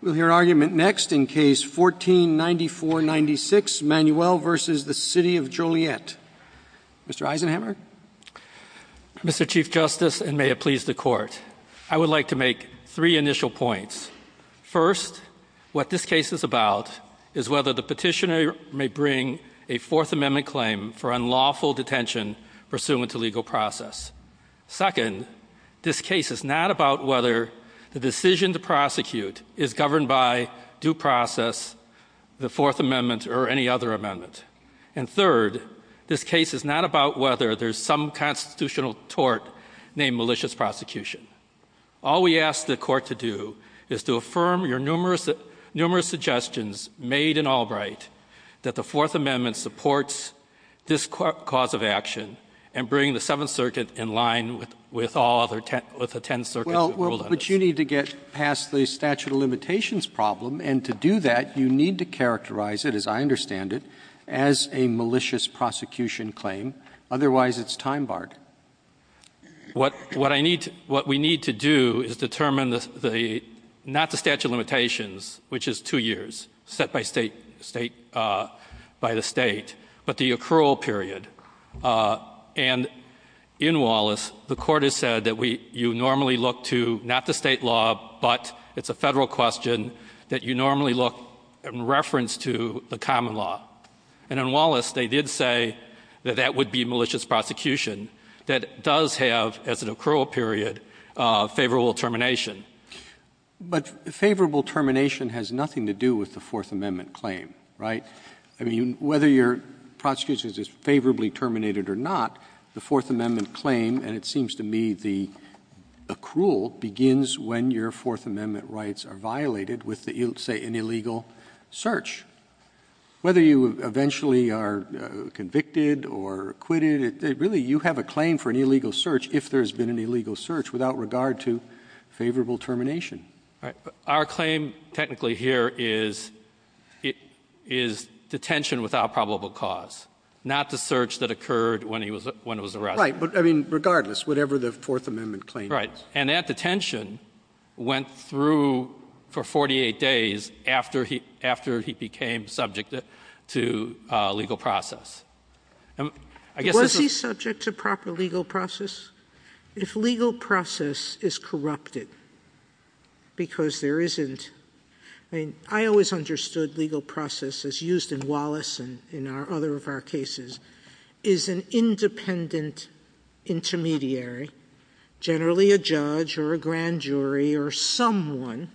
We'll hear argument next in Case 14-9496, Manuel v. The City of Joliet. Mr. Eisenhammer? Mr. Chief Justice, and may it please the Court, I would like to make three initial points. First, what this case is about is whether the petitioner may bring a Fourth Amendment claim for unlawful detention pursuant to legal process. Second, this case is not about whether the decision to prosecute is governed by due process, the Fourth Amendment, or any other amendment. And third, this case is not about whether there's some constitutional tort named malicious prosecution. All we ask the Court to do is to affirm your numerous suggestions made in Albright that the Fourth Amendment supports this cause of action and bring the Seventh Circuit in line with all other ten circuits that rule on it. But you need to get past the statute of limitations problem, and to do that, you need to characterize it, as I understand it, as a malicious prosecution claim. Otherwise, it's time barred. What we need to do is determine not the statute of limitations, which is two years, set by the State, but the accrual period. And in Wallace, the Court has said that you normally look to not the State law, but it's a Federal question that you normally look in reference to the common law. And in Wallace, they did say that that would be malicious prosecution that does have, as an accrual period, favorable termination. But favorable termination has nothing to do with the Fourth Amendment claim, right? I mean, whether your prosecution is favorably terminated or not, the Fourth Amendment rule begins when your Fourth Amendment rights are violated with, say, an illegal search. Whether you eventually are convicted or acquitted, really, you have a claim for an illegal search, if there's been an illegal search, without regard to favorable termination. Right. But our claim, technically, here is detention without probable cause, not the search that occurred when he was arrested. Right. But, I mean, regardless, whatever the Fourth Amendment claim is. And that detention went through for 48 days after he became subject to legal process. Was he subject to proper legal process? If legal process is corrupted, because there isn't, I mean, I always understood legal process, as used in Wallace and in other of our cases, is an independent intermediary, generally a judge or a grand jury or someone,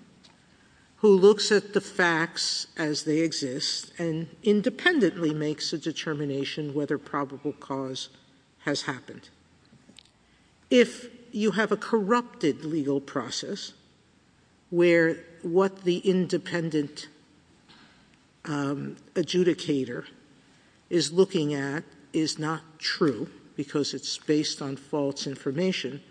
who looks at the facts as they exist and independently makes a determination whether probable cause has happened. If you have a corrupted legal process, where what the independent adjudicator is looking at is not true, because it's based on false information,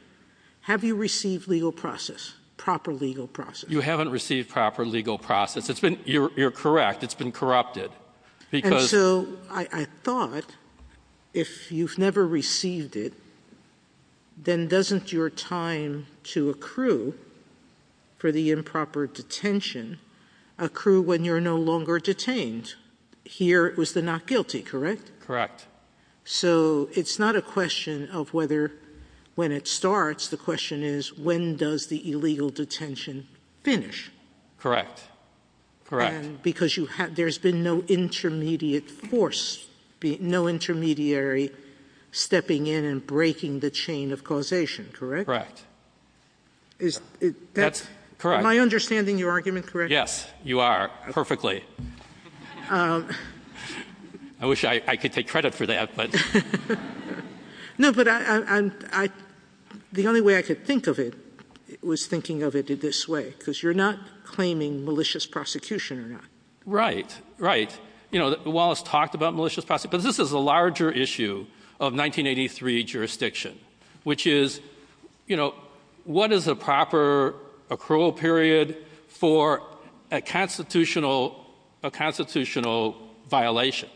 have you received legal process, proper legal process? You haven't received proper legal process. It's been, you're correct, it's been corrupted. And so, I thought, if you've never received it, then doesn't your time to accrue for the improper detention accrue when you're no longer detained? Here, it was the not guilty, correct? Correct. So, it's not a question of whether, when it starts, the question is, when does the illegal detention finish? Correct. Correct. Because you have, there's been no intermediate force, no intermediary stepping in and breaking the chain of causation, correct? Correct. That's correct. Am I understanding your argument correctly? Yes, you are, perfectly. I wish I could take credit for that, but. No, but I, I, I, the only way I could think of it was thinking of it this way, because you're not claiming malicious prosecution or not. Right, right. You know, Wallace talked about malicious prosecution, but this is a larger issue of 1983 jurisdiction, which is, you know, what is a proper accrual period for a constitutional, a constitutional violation?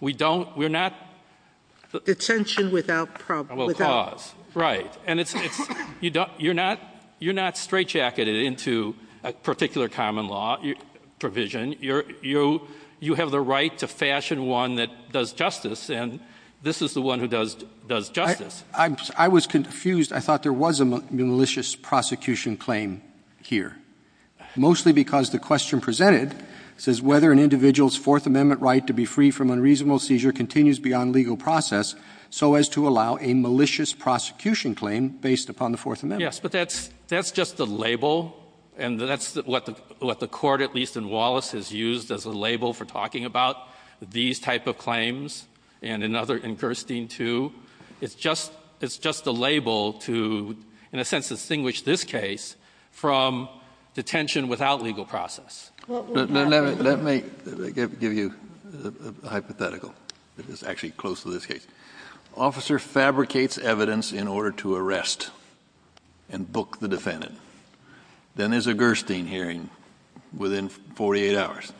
We don't, we're not. Detention without probable cause. Right. And it's, it's, you don't, you're not, you're not straightjacketed into a particular common law provision. You're, you're, you have the right to fashion one that does justice, and this is the one who does, does justice. I'm, I was confused. I thought there was a malicious prosecution claim here. Mostly because the question presented says whether an individual's Fourth Amendment right to be free from unreasonable seizure continues beyond legal process so as to allow a malicious prosecution claim based upon the Fourth Amendment. Yes, but that's, that's just the label, and that's what the, what the court, at least in Wallace, has used as a label for talking about these type of claims, and another in Gerstein too. It's just, it's just a label to, in a sense, distinguish this case from detention without legal process. Well, let me, let me give you a hypothetical that is actually close to this case. Officer fabricates evidence in order to arrest and book the defendant. Then there's a Gerstein hearing within 48 hours.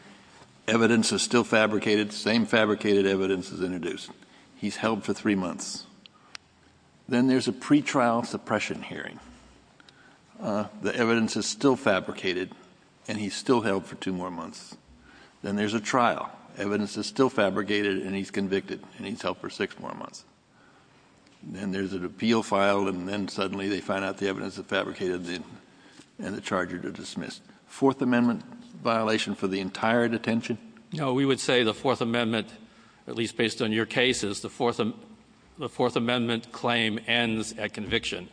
Evidence is still fabricated. Same fabricated evidence is introduced. He's held for three months. Then there's a pre-trial suppression hearing. The evidence is still fabricated, and he's still held for two more months. Then there's a trial. Evidence is still fabricated, and he's convicted, and he's held for six more months. Then there's an appeal filed, and then suddenly they find out the evidence is dismissed. Fourth Amendment violation for the entire detention? No, we would say the Fourth Amendment, at least based on your cases, the Fourth, the Fourth Amendment claim ends at conviction.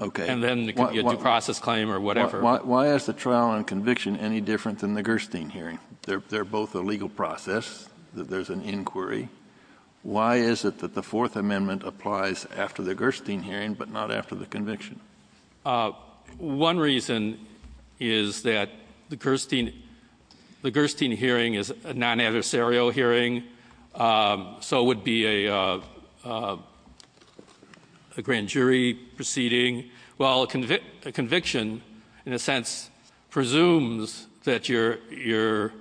Okay. And then the due process claim or whatever. Why is the trial and conviction any different than the Gerstein hearing? They're, they're both a legal process. There's an inquiry. Why is it that the Fourth Amendment applies after the Gerstein hearing, but not after the conviction? One reason is that the Gerstein, the Gerstein hearing is a non-adversarial hearing. So it would be a, a grand jury proceeding. Well, a conviction, in a sense, presumes that you're, you're,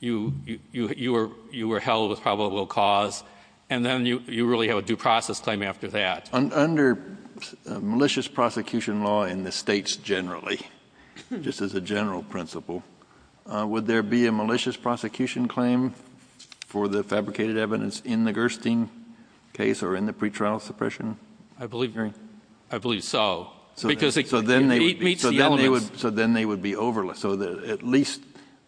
you, you, you were, you were held with probable cause, and then you, you really have a due process claim after that. Under malicious prosecution law in the States generally, just as a general principle, would there be a malicious prosecution claim for the fabricated evidence in the Gerstein case or in the pretrial suppression hearing? I believe, I believe so. Because it meets the elements. So then they would be over, so that at least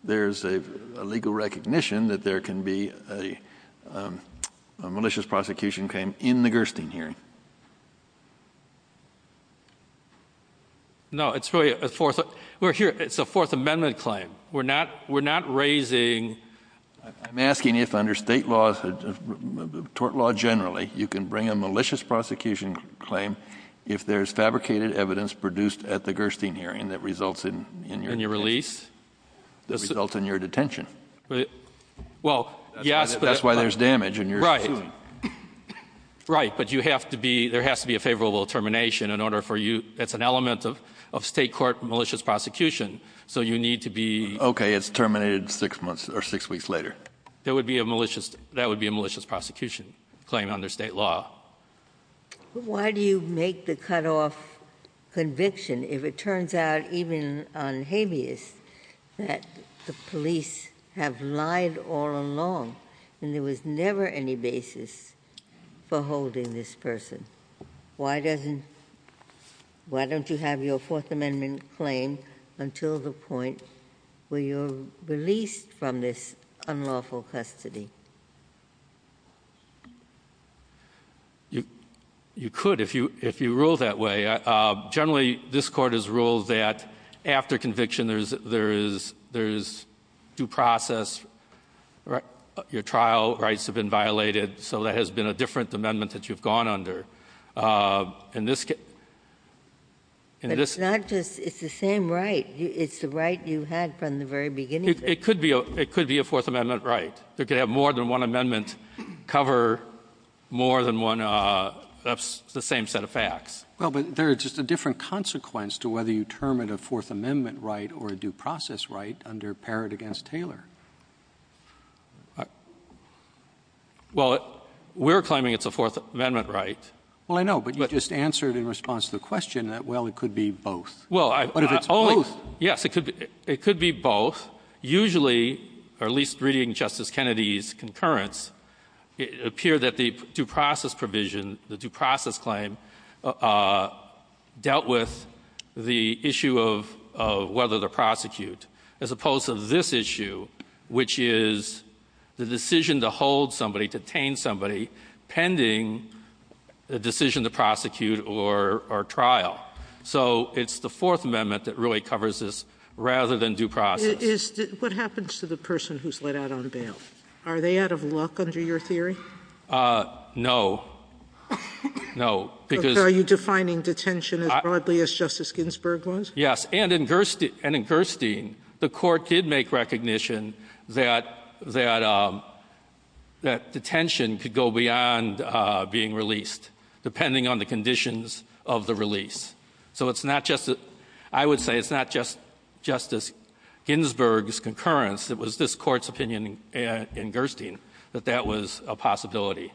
there's a legal recognition that there can be a malicious prosecution. No, it's really a Fourth, we're here, it's a Fourth Amendment claim. We're not, we're not raising. I'm asking if under state laws, tort law generally, you can bring a malicious prosecution claim if there's fabricated evidence produced at the Gerstein hearing that results in, in your detention. In your release? That results in your detention. Well, yes, but. That's why there's damage and you're suing. Right, but you have to be, there has to be a favorable termination in order for you, that's an element of, of state court malicious prosecution. So you need to be. Okay, it's terminated six months or six weeks later. There would be a malicious, that would be a malicious prosecution claim under state law. Why do you make the cutoff conviction if it turns out even on habeas that the police have lied all along and there was never any basis for holding this person? Why doesn't, why don't you have your Fourth Amendment claim until the point where you're released from this unlawful custody? You, you could if you, if you rule that way. Generally, this court has ruled that after conviction there's, there is, there is due process, your trial rights have been violated, so that has been a different amendment that you've gone under. In this case, in this. Not just, it's the same right, it's the right you had from the very beginning. It could be, it could be a Fourth Amendment right. They could have more than one amendment cover more than one, that's the same set of facts. Well, but there's just a different consequence to whether you term it a Fourth Amendment right or a due process right under Parrott v. Taylor. Well, we're claiming it's a Fourth Amendment right. Well, I know, but you just answered in response to the question that, well, it could be both. Well, I've always. Yes, it could, it could be both. Usually, or at least reading Justice Kennedy's concurrence, it appeared that the due process provision, the due process claim, dealt with the issue of whether the prosecute. As opposed to this issue, which is the decision to hold somebody, detain somebody, pending the decision to prosecute or trial. So it's the Fourth Amendment that really covers this rather than due process. Is, what happens to the person who's let out on bail? Are they out of luck under your theory? No. No, because. Are you defining detention as broadly as Justice Ginsburg was? Yes. And in Gerstein, the Court did make recognition that detention could go beyond being released, depending on the conditions of the release. So it's not just, I would say it's not just Justice Ginsburg's concurrence. It was this Court's opinion in Gerstein that that was a possibility.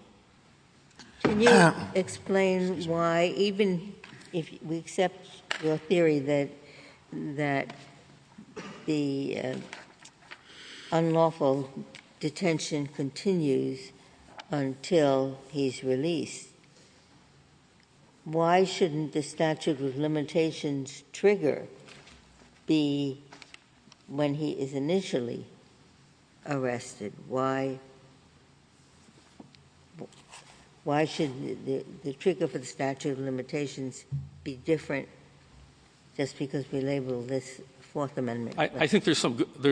Can you explain why, even if we accept your theory that, that the unlawful detention continues until he's released, why shouldn't the statute of limitations trigger be when he is initially arrested? Why should the trigger for the statute of limitations be different just because we label this Fourth Amendment? I think there's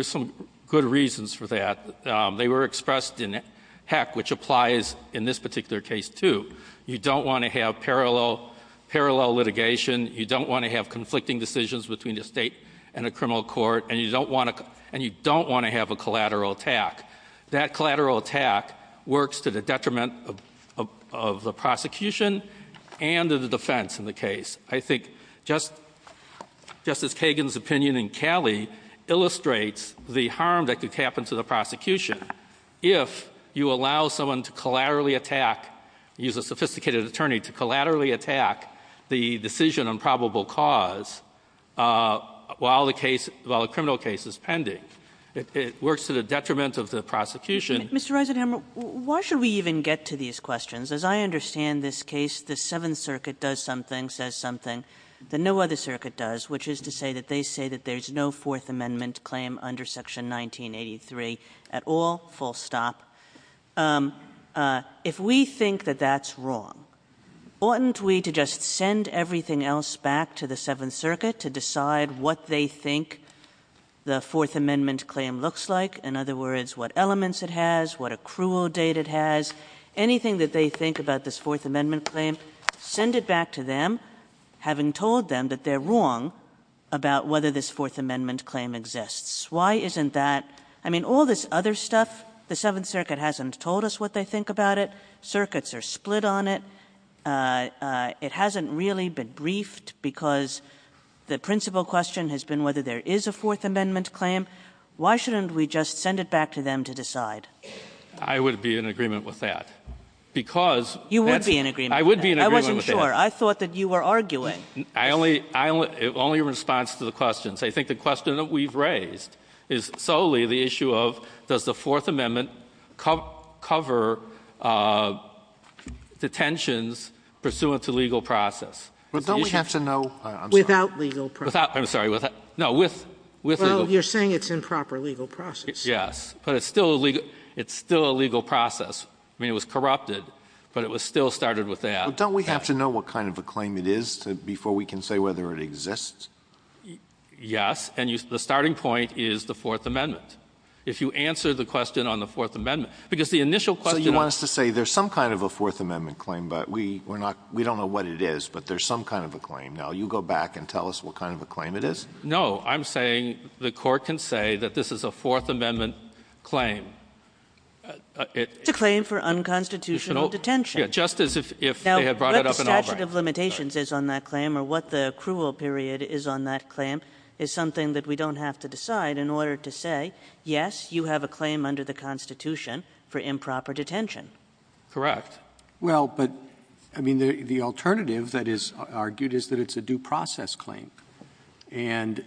some good reasons for that. They were expressed in Heck, which applies in this particular case, too. You don't want to have parallel litigation. You don't want to have conflicting decisions between the state and a criminal court. And you don't want to have a collateral attack. That collateral attack works to the detriment of the prosecution and of the defense in the case. I think Justice Kagan's opinion in Calley illustrates the harm that could happen to the prosecution if you allow someone to collaterally attack, use a sophisticated and improbable cause while the case, while a criminal case is pending. It works to the detriment of the prosecution. Mr. Eisenhower, why should we even get to these questions? As I understand this case, the Seventh Circuit does something, says something that no other circuit does, which is to say that they say that there's no Fourth Amendment claim under Section 1983 at all, full stop. If we think that that's wrong, oughtn't we to just send everything else back to the Seventh Circuit to decide what they think the Fourth Amendment claim looks like? In other words, what elements it has, what accrual date it has, anything that they think about this Fourth Amendment claim, send it back to them, having told them that they're wrong about whether this Fourth Amendment claim exists. Why isn't that? I mean, all this other stuff, the Seventh Circuit hasn't told us what they think about it. Circuits are split on it. It hasn't really been briefed because the principal question has been whether there is a Fourth Amendment claim. Why shouldn't we just send it back to them to decide? I would be in agreement with that. Because that's- You would be in agreement with that. I would be in agreement with that. I wasn't sure. I thought that you were arguing. I only, only in response to the questions. I think the question that we've raised is solely the issue of does the Fourth Amendment cover detentions pursuant to legal process? But don't we have to know- I'm sorry. Without legal process. Without, I'm sorry, without, no, with, with- Well, you're saying it's improper legal process. Yes, but it's still a legal, it's still a legal process. I mean, it was corrupted, but it was still started with that. But don't we have to know what kind of a claim it is before we can say whether it exists? Yes, and you, the starting point is the Fourth Amendment. If you answer the question on the Fourth Amendment, because the initial question- So you want us to say there's some kind of a Fourth Amendment claim, but we, we're not, we don't know what it is, but there's some kind of a claim. Now, you go back and tell us what kind of a claim it is? No, I'm saying the Court can say that this is a Fourth Amendment claim. It's a claim for unconstitutional detention. Yeah, just as if, if they had brought it up in Albany. What the set of limitations is on that claim, or what the accrual period is on that claim, is something that we don't have to decide in order to say, yes, you have a claim under the Constitution for improper detention. Correct. Well, but, I mean, the, the alternative that is argued is that it's a due process claim. And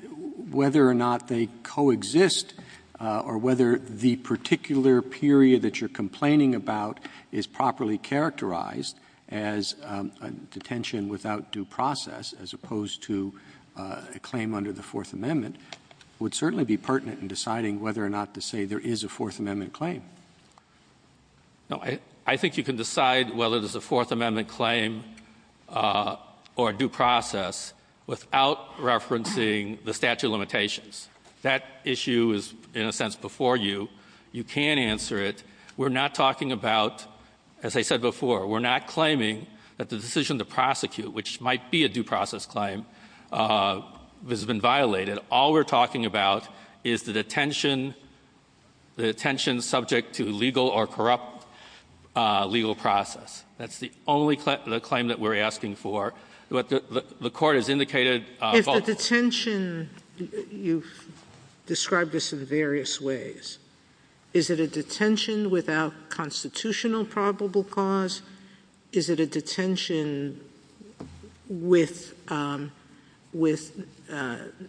whether or not they coexist, or whether the particular period that you're complaining about is properly characterized as a detention without due process, as opposed to a claim under the Fourth Amendment, would certainly be pertinent in deciding whether or not to say there is a Fourth Amendment claim. No. I, I think you can decide whether it is a Fourth Amendment claim or a due process without referencing the statute of limitations. That issue is, in a sense, before you. You can't answer it. We're not talking about, as I said before, we're not claiming that the decision to prosecute, which might be a due process claim, has been violated. All we're talking about is the detention, the detention subject to legal or corrupt legal process. That's the only claim, the claim that we're asking for. The Court has indicated both. If the detention, you've described this in various ways. Is it a detention without constitutional probable cause? Is it a detention with, with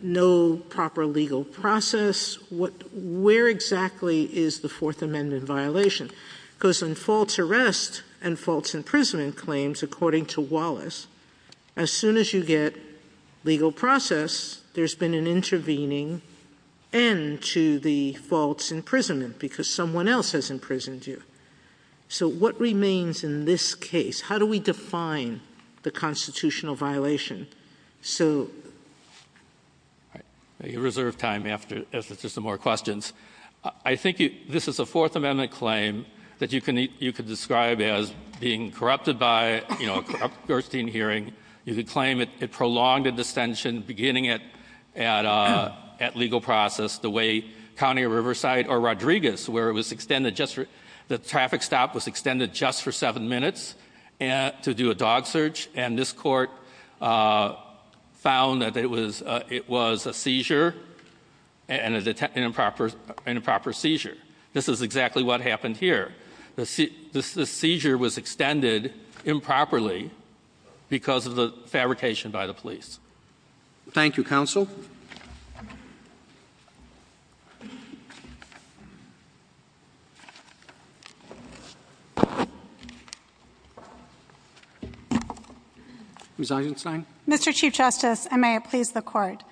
no proper legal process? What, where exactly is the Fourth Amendment violation? Because in false arrest and false imprisonment claims, according to Wallace, as soon as you get legal process, there's been an intervening end to the false imprisonment because someone else has imprisoned you. So what remains in this case? How do we define the constitutional violation? So. All right. We reserve time after, after just some more questions. I think you, this is a Fourth Amendment claim that you can, you could describe as being corrupted by, you know, a corrupt Gerstein hearing. You could claim it, it prolonged a dissension beginning at, at, at legal process the way County of Riverside or Rodriguez, where it was extended just for, the traffic stop was extended just for seven minutes to do a dog search. And this court found that it was, it was a seizure and an improper, an improper seizure. This is exactly what happened here. The, the, the seizure was extended improperly because of the fabrication by the police. Thank you, counsel. Ms. Eisenstein. Mr. Chief Justice, and may it please the court.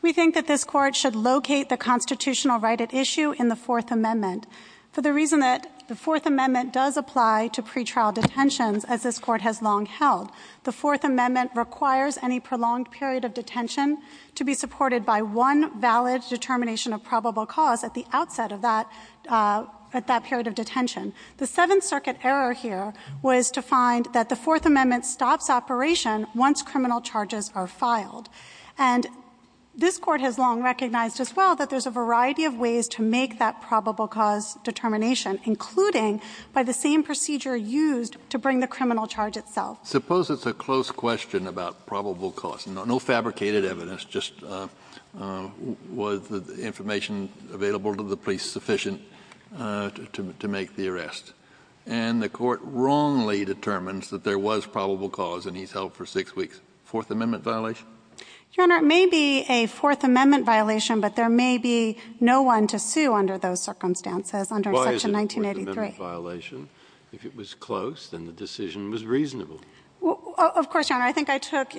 We think that this court should locate the constitutional right at issue in the Fourth Amendment for the reason that the Fourth Amendment does apply to pre-trial detentions as this court has long held. The Fourth Amendment requires any prolonged period of detention to be supported by one valid determination of probable cause at the outset of that, at that period of detention. The Seventh Circuit error here was to find that the Fourth Amendment stops operation once criminal charges are filed. And this court has long recognized as well that there's a variety of ways to make that probable cause determination, including by the same procedure used to bring the criminal charge itself. Suppose it's a close question about probable cause, no, no fabricated evidence, just was the information available to the police sufficient to make the arrest? And the court wrongly determines that there was probable cause and he's held for six weeks. Fourth Amendment violation? Your Honor, it may be a Fourth Amendment violation, but there may be no one to sue under those circumstances, under Section 1983. Why is it a Fourth Amendment violation? If it was close, then the decision was reasonable. Of course, Your Honor. I think I took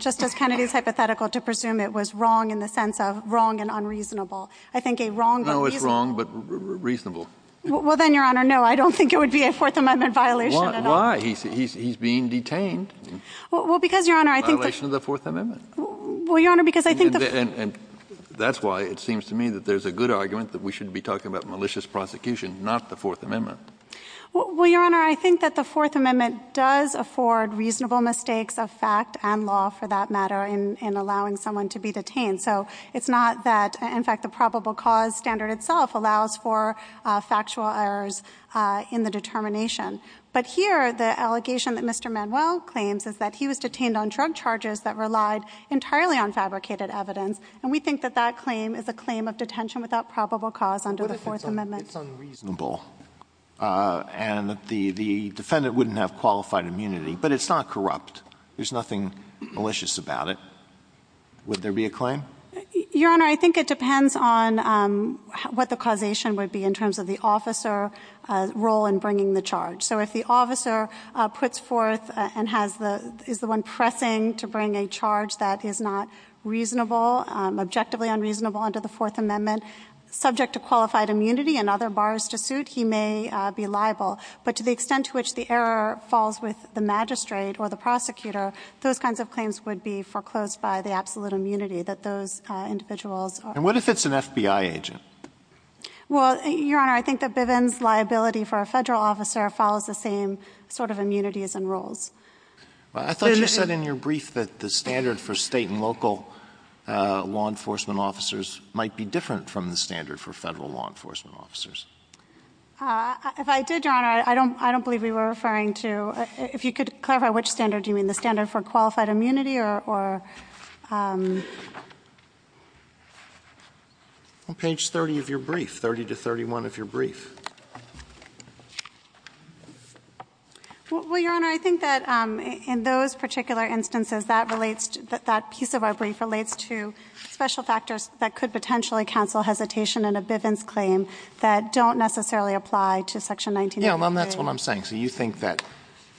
Justice Kennedy's hypothetical to presume it was wrong in the sense of wrong and unreasonable. I think a wrong but reasonable... No, it's wrong but reasonable. Well, then, Your Honor, no, I don't think it would be a Fourth Amendment violation at all. Why? He's being detained. Well, because, Your Honor, I think... Violation of the Fourth Amendment. Well, Your Honor, because I think the... And that's why it seems to me that there's a good argument that we should be talking about malicious prosecution, not the Fourth Amendment. Well, Your Honor, I think that the Fourth Amendment does afford reasonable mistakes of fact and law, for that matter, in allowing someone to be detained. So it's not that, in fact, the probable cause standard itself allows for factual errors in the determination. But here, the allegation that Mr. Manuel claims is that he was detained on drug charges that entirely on fabricated evidence. And we think that that claim is a claim of detention without probable cause under the Fourth Amendment. It's unreasonable. And the defendant wouldn't have qualified immunity. But it's not corrupt. There's nothing malicious about it. Would there be a claim? Your Honor, I think it depends on what the causation would be in terms of the officer role in bringing the charge. So if the officer puts forth and has the... Is the one pressing to bring a charge that is not reasonable, objectively unreasonable under the Fourth Amendment, subject to qualified immunity and other bars to suit, he may be liable. But to the extent to which the error falls with the magistrate or the prosecutor, those kinds of claims would be foreclosed by the absolute immunity that those individuals... And what if it's an FBI agent? Well, Your Honor, I think that Bivens' liability for a federal officer follows the same sort of immunities and rules. I thought you said in your brief that the standard for state and local law enforcement officers might be different from the standard for federal law enforcement officers. If I did, Your Honor, I don't believe we were referring to... If you could clarify which standard you mean, the standard for qualified immunity or... On page 30 of your brief, 30 to 31 of your brief. Well, Your Honor, I think that in those particular instances, that relates... That piece of our brief relates to special factors that could potentially cancel hesitation in a Bivens' claim that don't necessarily apply to Section 19... Yeah, well, that's what I'm saying. So you think that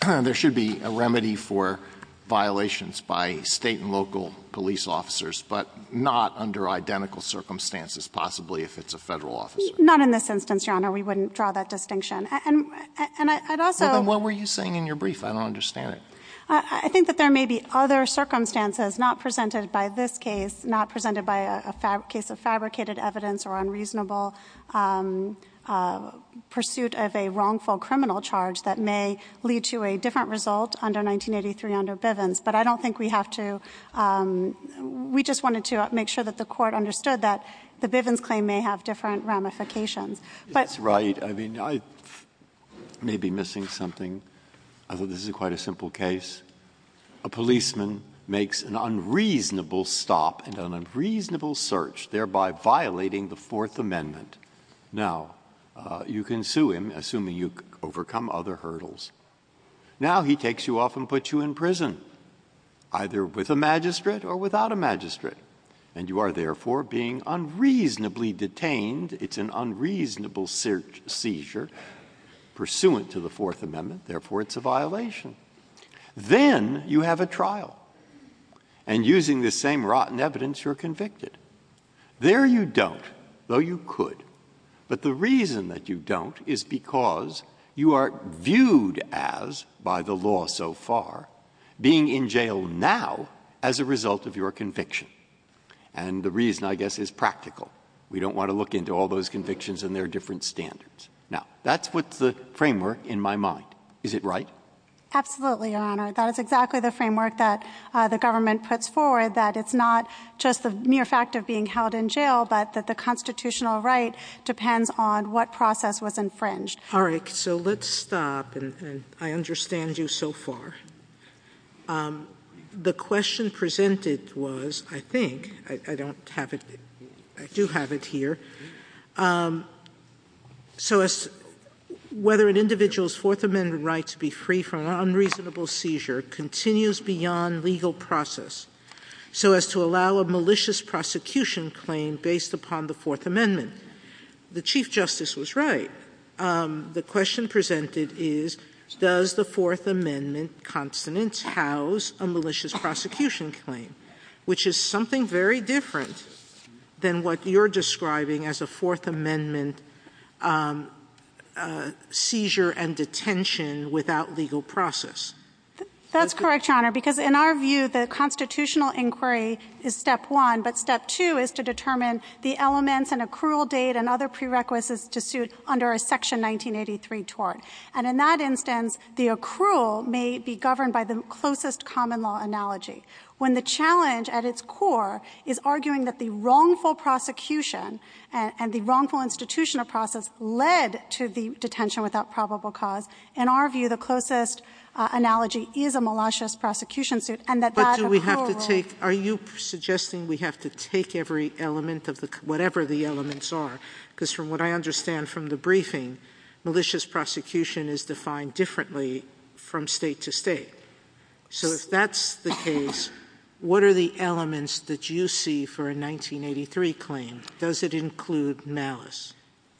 there should be a remedy for violations by state and local police officers, but not under identical circumstances, possibly if it's a federal officer? Not in this instance, Your Honor. We wouldn't draw that distinction. And I'd also... Then what were you saying in your brief? I don't understand it. I think that there may be other circumstances not presented by this case, not presented by a case of fabricated evidence or unreasonable pursuit of a wrongful criminal charge that may lead to a different result under 1983 under Bivens. But I don't think we have to... We just wanted to make sure that the Court understood that the Bivens' claim may have different ramifications. That's right. I mean, I may be missing something. I think this is quite a simple case. A policeman makes an unreasonable stop and an unreasonable search, thereby violating the Fourth Amendment. Now, you can sue him, assuming you overcome other hurdles. Now he takes you off and puts you in prison. Either with a magistrate or without a magistrate. And you are, therefore, being unreasonably detained. It's an unreasonable seizure pursuant to the Fourth Amendment. Therefore, it's a violation. Then you have a trial. And using the same rotten evidence, you're convicted. There you don't, though you could. But the reason that you don't is because you are viewed as, by the law so far, being in jail now as a result of your conviction. And the reason, I guess, is practical. We don't want to look into all those convictions and their different standards. Now, that's what's the framework in my mind. Is it right? Absolutely, Your Honor. That is exactly the framework that the government puts forward. That it's not just the mere fact of being held in jail, but that the constitutional right depends on what process was infringed. All right. So let's stop. And I understand you so far. The question presented was, I think, I don't have it. I do have it here. So whether an individual's Fourth Amendment right to be free from an unreasonable seizure continues beyond legal process so as to allow a malicious prosecution claim based upon the Fourth Amendment. The Chief Justice was right. The question presented is, does the Fourth Amendment consonant house a malicious prosecution claim? Which is something very different than what you're describing as a Fourth Amendment seizure and detention without legal process. That's correct, Your Honor. Because in our view, the constitutional inquiry is step one. But step two is to determine the elements and accrual date and other prerequisites to suit under a Section 1983 tort. And in that instance, the accrual may be governed by the closest common law analogy. When the challenge at its core is arguing that the wrongful prosecution and the wrongful institutional process led to the detention without probable cause, in our view, the closest analogy is a malicious prosecution suit. And that that accrual rule But do we have to take, are you suggesting we have to take every element of the, whatever the elements are? Because from what I understand from the briefing, malicious prosecution is defined differently from state to state. So if that's the case, what are the elements that you see for a 1983 claim? Does it include malice?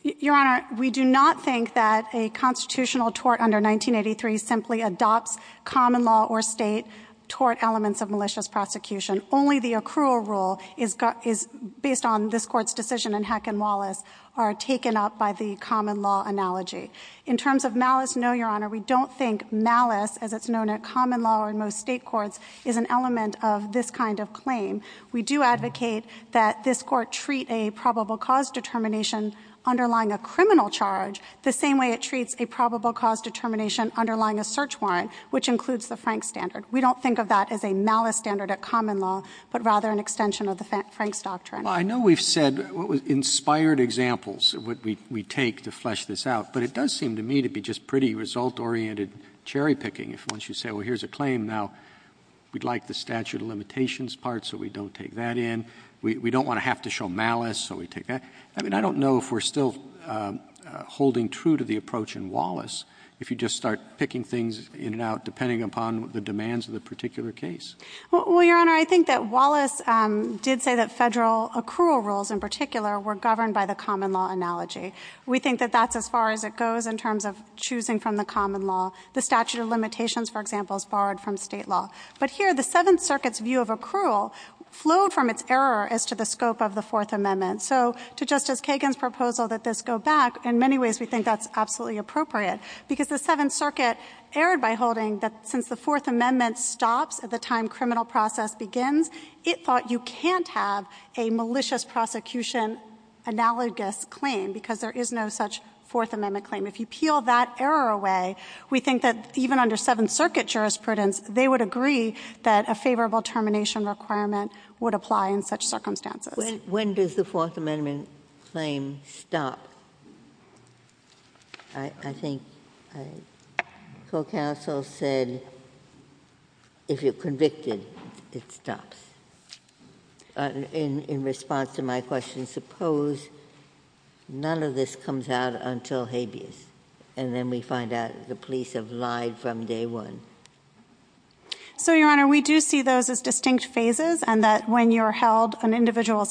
Your Honor, we do not think that a constitutional tort under 1983 simply adopts common law or state tort elements of malicious prosecution. Only the accrual rule is based on this Court's decision and Hacken-Wallace are taken up by the common law analogy. In terms of malice, no, Your Honor, we don't think malice, as it's known at common law in most state courts, is an element of this kind of claim. We do advocate that this Court treat a probable cause determination underlying a criminal charge the same way it treats a probable cause determination underlying a search warrant, which includes the Frank standard. We don't think of that as a malice standard at common law, but rather an extension of the Frank's doctrine. Well, I know we've said inspired examples of what we take to flesh this out, but it does seem to me to be just pretty result-oriented cherry picking. If once you say, well, here's a claim, now we'd like the statute of limitations part, so we don't take that in. We don't want to have to show malice, so we take that. I mean, I don't know if we're still holding true to the approach in Wallace. If you just start picking things in and out depending upon the demands of the particular case. Well, Your Honor, I think that Wallace did say that federal accrual rules in particular were governed by the common law analogy. We think that that's as far as it goes in terms of choosing from the common law. The statute of limitations, for example, is borrowed from state law. But here, the Seventh Circuit's view of accrual flowed from its error as to the scope of the Fourth Amendment. So to Justice Kagan's proposal that this go back, in many ways, we think that's absolutely appropriate, because the Seventh Circuit erred by holding that since the Fourth Amendment stops at the time criminal process begins, it thought you can't have a malicious prosecution analogous claim, because there is no such Fourth Amendment claim. If you peel that error away, we think that even under Seventh Circuit jurisprudence, they would agree that a favorable termination requirement would apply in such circumstances. When does the Fourth Amendment claim stop? I think Co-Counsel said, if you're convicted, it stops. In response to my question, suppose none of this comes out until habeas, and then we find out the police have lied from day one. So, Your Honor, we do see those as distinct phases, and that when you're held on individual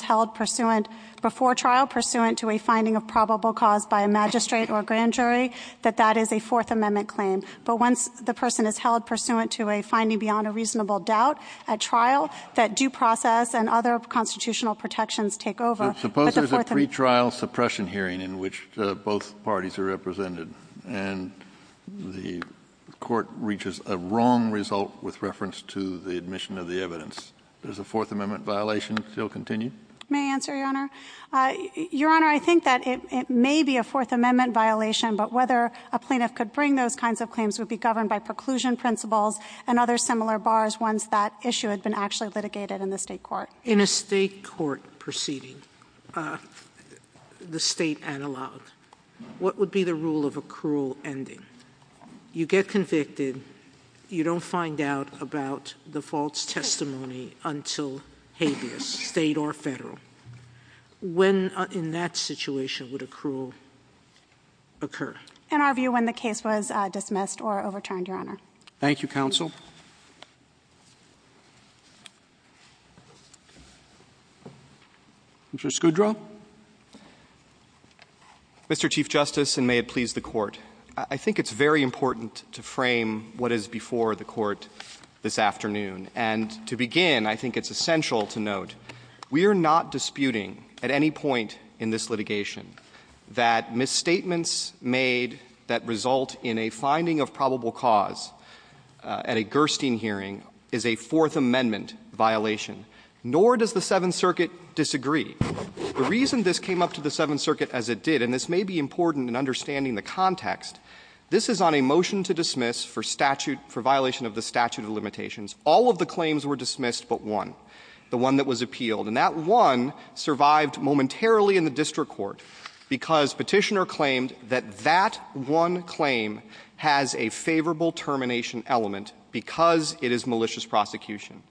before trial pursuant to a finding of probable cause by a magistrate or a grand jury, that that is a Fourth Amendment claim. But once the person is held pursuant to a finding beyond a reasonable doubt at trial, that due process and other constitutional protections take over. But suppose there's a pretrial suppression hearing in which both parties are represented, and the court reaches a wrong result with reference to the admission of the evidence. Does the Fourth Amendment violation still continue? May I answer, Your Honor? Your Honor, I think that it may be a Fourth Amendment violation, but whether a plaintiff could bring those kinds of claims would be governed by preclusion principles and other similar bars once that issue had been actually litigated in the State court. In a State court proceeding, the State analog, what would be the rule of a cruel ending? You get convicted, you don't find out about the false testimony until habeas, State or Federal. When in that situation would a cruel occur? In our view, when the case was dismissed or overturned, Your Honor. Thank you, counsel. Mr. Scudro. Mr. Chief Justice, and may it please the Court, I think it's very important to frame what is before the Court this afternoon. And to begin, I think it's essential to note, we are not disputing at any point in this litigation that misstatements made that result in a finding of probable cause at a Gerstein hearing is a Fourth Amendment violation, nor does the Seventh Circuit disagree. The reason this came up to the Seventh Circuit as it did, and this may be important in understanding the context, this is on a motion to dismiss for statute, for violation of the statute of limitations. All of the claims were dismissed but one, the one that was appealed. And that one survived momentarily in the district court, because Petitioner claimed that that one claim has a favorable termination element because it is malicious prosecution.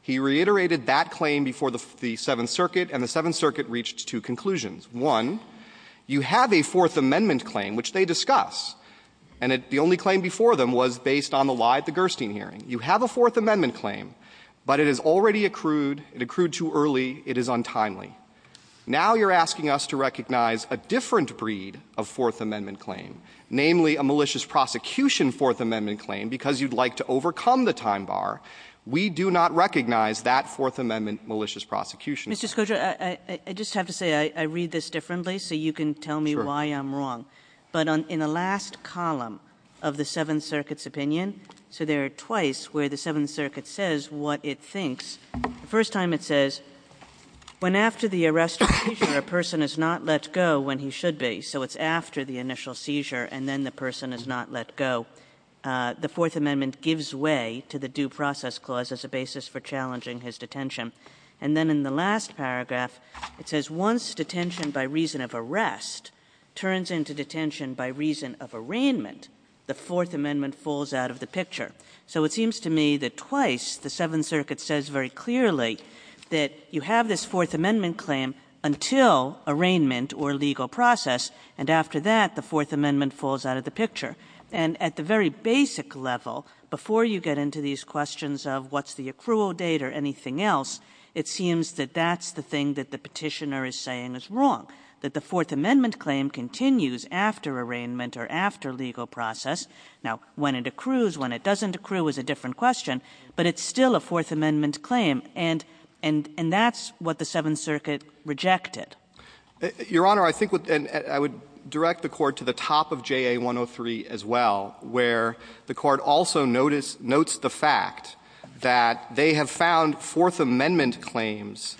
He reiterated that claim before the Seventh Circuit, and the Seventh Circuit reached two conclusions. One, you have a Fourth Amendment claim, which they discuss, and the only claim before them was based on the lie at the Gerstein hearing. You have a Fourth Amendment claim, but it has already accrued, it accrued too early, it is untimely. Now you're asking us to recognize a different breed of Fourth Amendment claim, namely a malicious prosecution Fourth Amendment claim, because you'd like to overcome the time bar. We do not recognize that Fourth Amendment malicious prosecution. Kagan. Kagan. I just have to say, I read this differently, so you can tell me why I'm wrong. Sure. But in the last column of the Seventh Circuit's opinion, so there are twice where the Seventh Circuit says what it thinks. The first time it says, when after the arrest or seizure, a person is not let go when he should be, so it's after the initial seizure and then the person is not let go, the Fourth Amendment gives way to the due process clause as a basis for challenging his detention. And then in the last paragraph, it says, once detention by reason of arrest turns into detention by reason of arraignment, the Fourth Amendment falls out of the picture. So it seems to me that twice, the Seventh Circuit says very clearly that you have this Fourth Amendment claim until arraignment or legal process. And after that, the Fourth Amendment falls out of the picture. And at the very basic level, before you get into these questions of what's the accrual date or anything else, it seems that that's the thing that the petitioner is saying is wrong. That the Fourth Amendment claim continues after arraignment or after legal process. Now, when it accrues, when it doesn't accrue is a different question. But it's still a Fourth Amendment claim, and that's what the Seventh Circuit rejected. Your Honor, I think I would direct the court to the top of JA 103 as well, where the court also notes the fact that they have found Fourth Amendment claims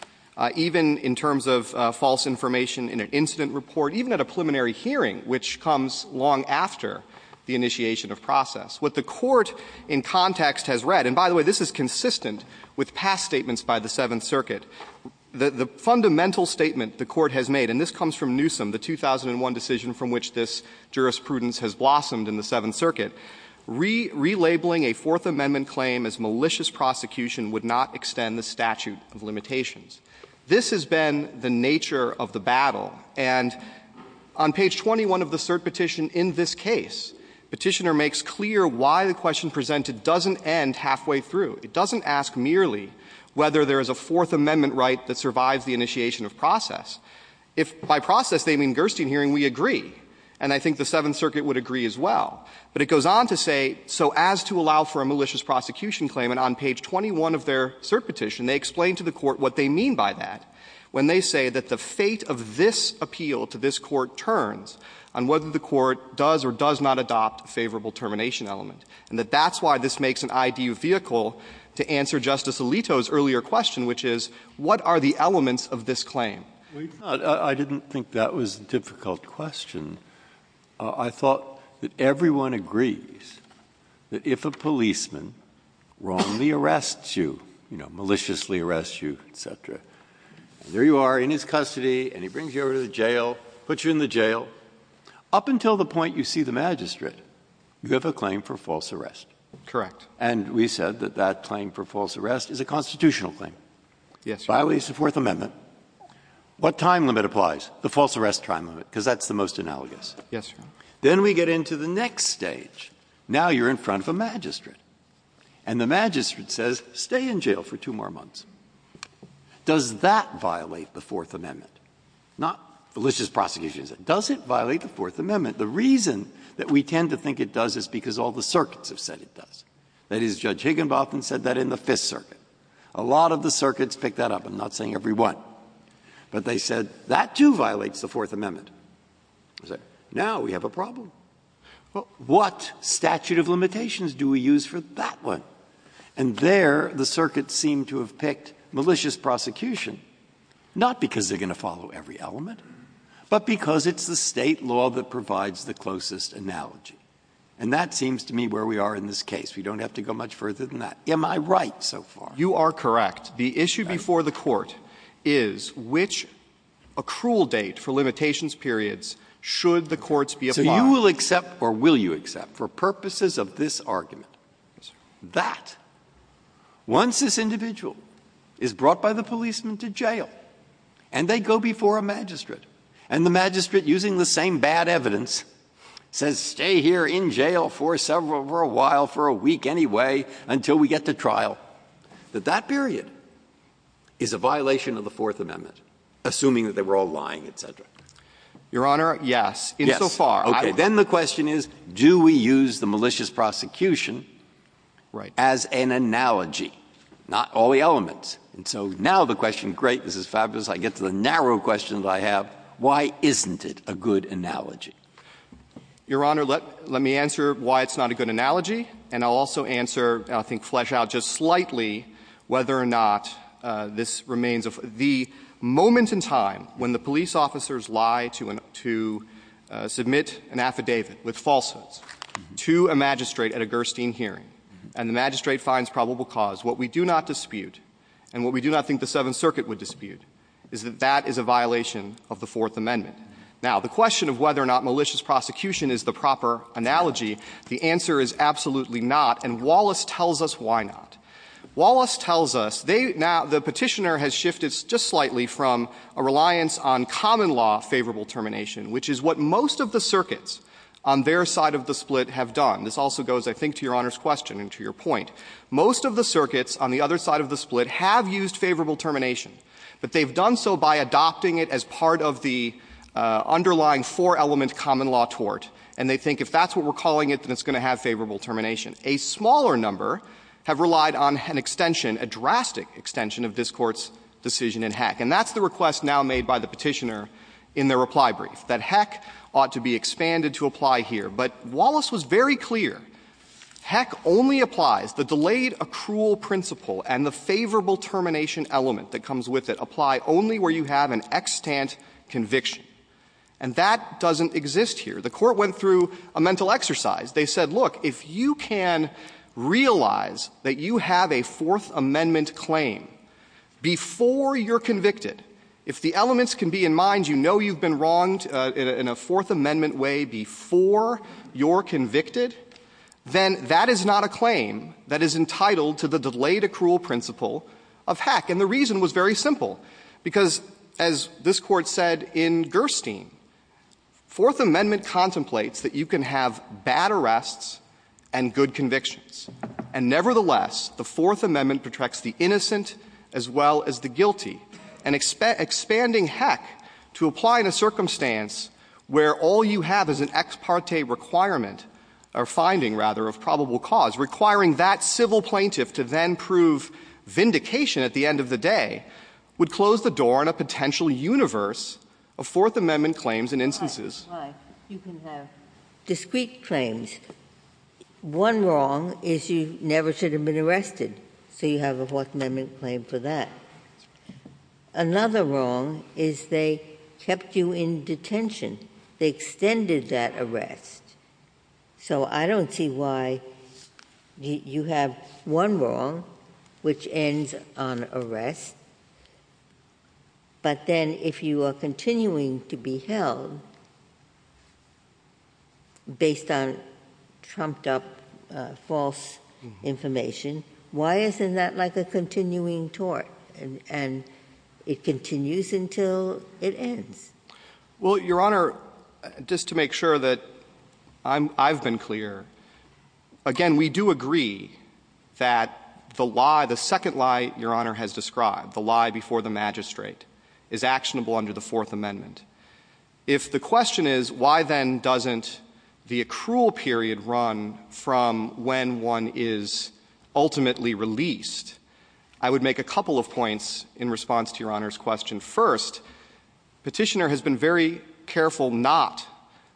even in terms of false information in an incident report, even at a preliminary hearing, which comes long after the initiation of process. What the court in context has read, and by the way, this is consistent with past statements by the Seventh Circuit. The fundamental statement the court has made, and this comes from Newsom, the 2001 decision from which this jurisprudence has blossomed in the Seventh Circuit. Relabeling a Fourth Amendment claim as malicious prosecution would not extend the statute of limitations. This has been the nature of the battle. And on page 21 of the cert petition in this case, petitioner makes clear why the question presented doesn't end halfway through. It doesn't ask merely whether there is a Fourth Amendment right that survives the initiation of process. If by process they mean Gerstein hearing, we agree. And I think the Seventh Circuit would agree as well. But it goes on to say, so as to allow for a malicious prosecution claim, and on page 21 of their cert petition, they explain to the court what they mean by that. When they say that the fate of this appeal to this court turns on whether the court does or does not adopt a favorable termination element. And that that's why this makes an ideal vehicle to answer Justice Alito's earlier question, which is, what are the elements of this claim? I didn't think that was a difficult question. I thought that everyone agrees that if a policeman wrongly arrests you, you know, maliciously arrests you, etc., and there you are in his custody, and he brings you over to the jail, puts you in the jail. Up until the point you see the magistrate, you have a claim for false arrest. Correct. And we said that that claim for false arrest is a constitutional claim. Yes, Your Honor. Violates the Fourth Amendment. What time limit applies? The false arrest time limit, because that's the most analogous. Yes, Your Honor. Then we get into the next stage. Now you're in front of a magistrate. And the magistrate says, stay in jail for two more months. Does that violate the Fourth Amendment? Not malicious prosecution. Does it violate the Fourth Amendment? The reason that we tend to think it does is because all the circuits have said it does. That is, Judge Higginbotham said that in the Fifth Circuit. A lot of the circuits picked that up. I'm not saying every one. But they said, that too violates the Fourth Amendment. Now we have a problem. What statute of limitations do we use for that one? And there, the circuit seemed to have picked malicious prosecution, not because they're going to follow every element, but because it's the state law that provides the closest analogy. And that seems to me where we are in this case. We don't have to go much further than that. Am I right so far? You are correct. The issue before the court is, which accrual date for limitations periods should the courts be applying? So you will accept, or will you accept, for purposes of this argument, that once this individual is brought by the policeman to jail, and they go before a magistrate, and the magistrate, using the same bad evidence, says, stay here in jail for a while, for a week anyway, until we get to trial, that that period is a violation of the Fourth Amendment, assuming that they were all lying, et cetera? Your Honor, yes. Yes. So far. Okay. Then the question is, do we use the malicious prosecution as an analogy, not all the elements? And so now the question, great, this is fabulous, I get to the narrow questions I have, why isn't it a good analogy? Your Honor, let me answer why it's not a good analogy. And I'll also answer, and I think flesh out just slightly, whether or not this remains a — the moment in time when the police officers lie to — to submit an affidavit with falsehoods to a magistrate at a Gerstein hearing, and the magistrate finds probable cause, what we do not dispute, and what we do not think the Seventh Circuit would dispute, is that that is a violation of the Fourth Amendment. Now, the question of whether or not malicious prosecution is the proper analogy, the answer is absolutely not, and Wallace tells us why not. Wallace tells us, they — now, the Petitioner has shifted just slightly from a reliance on common law favorable termination, which is what most of the circuits on their side of the split have done. This also goes, I think, to Your Honor's question and to your point. Most of the circuits on the other side of the split have used favorable termination, but they've done so by adopting it as part of the underlying four-element common law tort, and they think if that's what we're calling it, then it's going to have favorable termination. A smaller number have relied on an extension, a drastic extension, of this Court's decision in Heck. And that's the request now made by the Petitioner in their reply brief, that Heck ought to be expanded to apply here. But Wallace was very clear, Heck only applies the delayed accrual principle and the favorable termination element that comes with it. Apply only where you have an extant conviction. And that doesn't exist here. The Court went through a mental exercise. They said, look, if you can realize that you have a Fourth Amendment claim before you're convicted, if the elements can be in mind, you know you've been wronged in a Fourth Amendment way before you're convicted, then that is not a claim that is entitled to the delayed accrual principle of Heck. And the reason was very simple, because, as this Court said in Gerstein, Fourth Amendment contemplates that you can have bad arrests and good convictions. And nevertheless, the Fourth Amendment protects the innocent as well as the guilty. And expanding Heck to apply in a circumstance where all you have is an ex parte requirement, or finding, rather, of probable cause, requiring that civil plaintiff to then prove vindication at the end of the day, would close the door on a potential universe of Fourth Amendment claims and instances. Ginsburg. Why? You can have discrete claims. One wrong is you never should have been arrested, so you have a Fourth Amendment claim for that. Another wrong is they kept you in detention. They extended that arrest. So I don't see why you have one wrong which ends on arrest. But then if you are continuing to be held based on trumped up false information, why isn't that like a continuing tort? And it continues until it ends. Well, Your Honor, just to make sure that I've been clear, again, we do agree that the lie, the second lie Your Honor has described, the lie before the magistrate, is actionable under the Fourth Amendment. If the question is, why then doesn't the accrual period run from when one is ultimately released, I would make a couple of points in response to Your Honor's question. First, Petitioner has been very careful not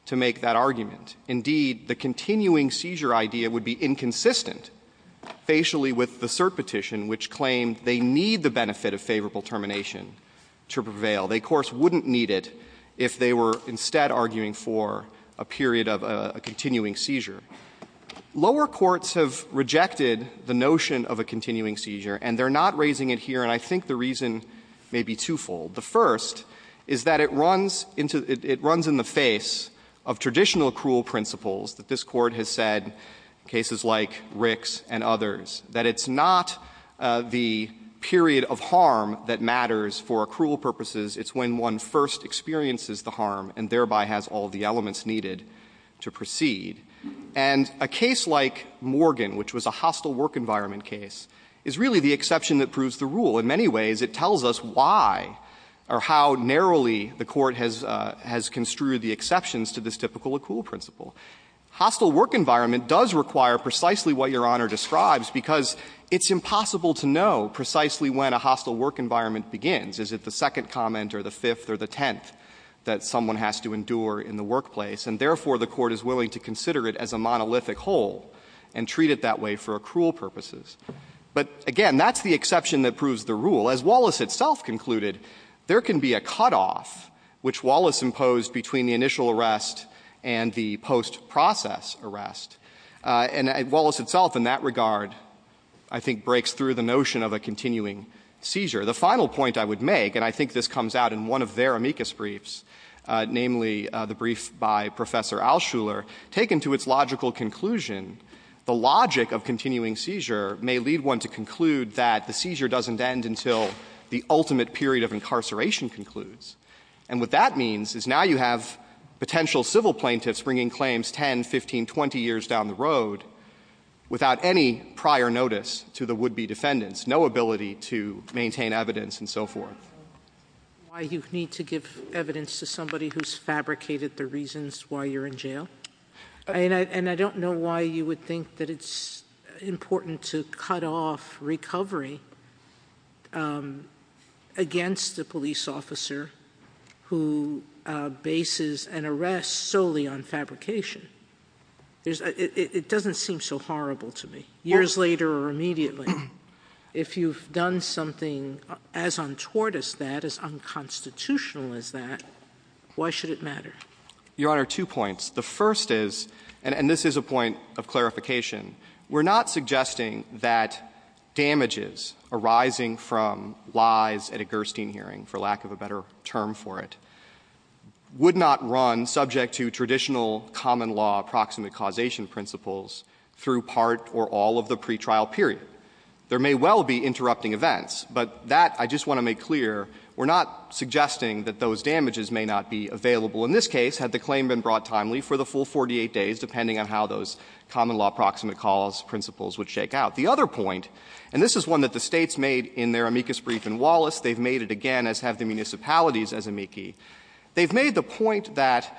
to make that argument. Indeed, the continuing seizure idea would be inconsistent facially with the cert petition, which claimed they need the benefit of favorable termination to prevail. They, of course, wouldn't need it if they were instead arguing for a period of a continuing seizure. Lower courts have rejected the notion of a continuing seizure, and they're not raising it here, and I think the reason may be twofold. The first is that it runs into the face of traditional accrual principles that this Court has said, cases like Rick's and others, that it's not the period of harm that matters for accrual purposes. It's when one first experiences the harm, and thereby has all the elements needed to proceed. And a case like Morgan, which was a hostile work environment case, is really the exception that proves the rule. In many ways, it tells us why or how narrowly the Court has construed the exceptions to this typical accrual principle. Hostile work environment does require precisely what Your Honor describes, because it's impossible to know precisely when a hostile work environment begins. Is it the second comment or the fifth or the tenth that someone has to endure in the workplace, and therefore the Court is willing to consider it as a monolithic whole and treat it that way for accrual purposes? But again, that's the exception that proves the rule. As Wallace itself concluded, there can be a cutoff which Wallace imposed between the initial arrest and the post-process arrest. And Wallace itself, in that regard, I think breaks through the notion of a continuing seizure. The final point I would make, and I think this comes out in one of their amicus briefs, namely the brief by Professor Altshuler, taken to its logical conclusion, the logic of continuing seizure may lead one to conclude that the seizure doesn't end until the ultimate period of incarceration concludes. And what that means is now you have potential civil plaintiffs bringing claims 10, 15, 20 years down the road without any prior notice to the would-be defendants, no ability to maintain evidence and so forth. Why you need to give evidence to somebody who's fabricated the reasons why you're in jail? And I don't know why you would think that it's important to cut off recovery against a police officer who bases an arrest solely on fabrication. It doesn't seem so horrible to me. Years later or immediately, if you've done something as untoward as that, as unconstitutional as that, why should it matter? Your Honor, two points. The first is, and this is a point of clarification, we're not suggesting that damages arising from lies at a Gerstein hearing, for lack of a better term for it, would not run subject to traditional common law approximate causation principles through part or all of the pretrial period. There may well be interrupting events, but that I just want to make clear, we're not suggesting that those damages may not be available. In this case, had the claim been brought timely for the full 48 days, depending on how those common law approximate cause principles would shake out. The other point, and this is one that the States made in their amicus brief in Wallace, they've made it again, as have the municipalities as amici. They've made the point that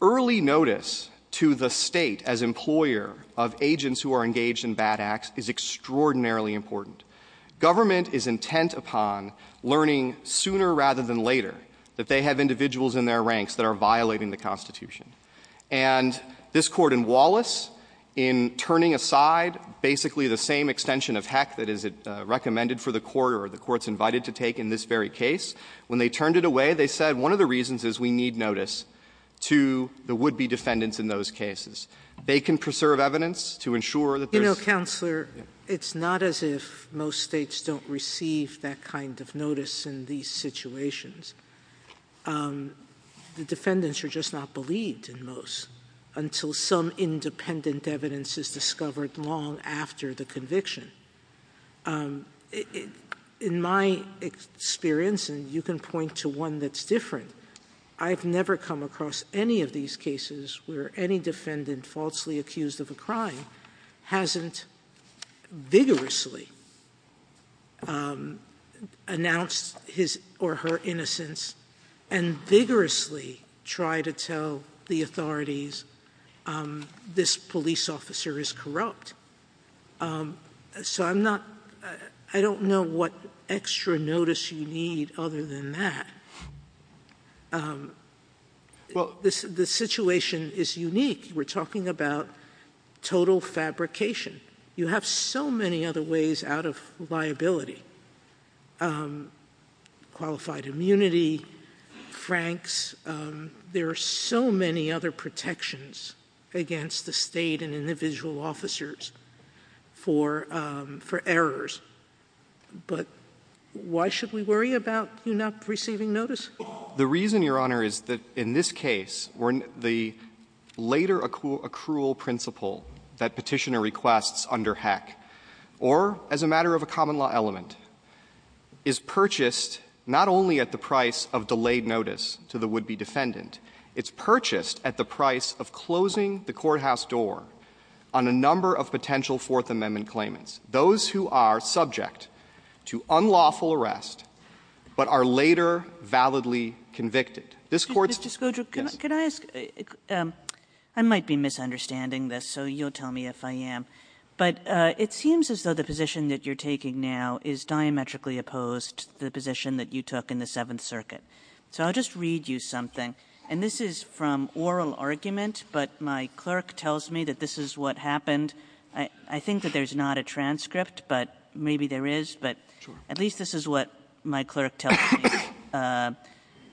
early notice to the State as employer of agents who are engaged in bad acts is extraordinarily important. Government is intent upon learning sooner rather than later that they have individuals in their ranks that are violating the Constitution. And this Court in Wallace, in turning aside basically the same extension of heck that is recommended for the Court or the Court's invited to take in this very case, when they turned it away, they said, one of the reasons is we need notice to the would-be defendants in those cases. They can preserve evidence to ensure that there's — You know, Counselor, it's not as if most States don't receive that kind of notice in these situations. The defendants are just not believed in most until some independent evidence is discovered long after the conviction. In my experience, and you can point to one that's different, I've never come across any of these cases where any defendant falsely accused of a crime hasn't vigorously announced his or her innocence and vigorously tried to tell the authorities this police officer is corrupt. So I'm not — I don't know what extra notice you need other than that. Well, this — the situation is unique. We're talking about total fabrication. You have so many other ways out of liability — qualified immunity, franks. There are so many other protections against the State and individual officers for errors. But why should we worry about you not receiving notice? The reason, Your Honor, is that in this case, the later accrual principle that Petitioner requests under Heck, or as a matter of a common law element, is purchased not only at the price of delayed notice to the would-be defendant. It's purchased at the price of closing the courthouse door on a number of potential Fourth Amendment claimants, those who are subject to unlawful arrest but are later validly convicted. This Court's — Mr. Scodro, can I ask — I might be misunderstanding this, so you'll tell me if I am. But it seems as though the position that you're taking now is diametrically opposed to the position that you took in the Seventh Circuit. So I'll just read you something. And this is from oral argument, but my clerk tells me that this is what happened — I think that there's not a transcript, but maybe there is, but at least this is what my clerk tells me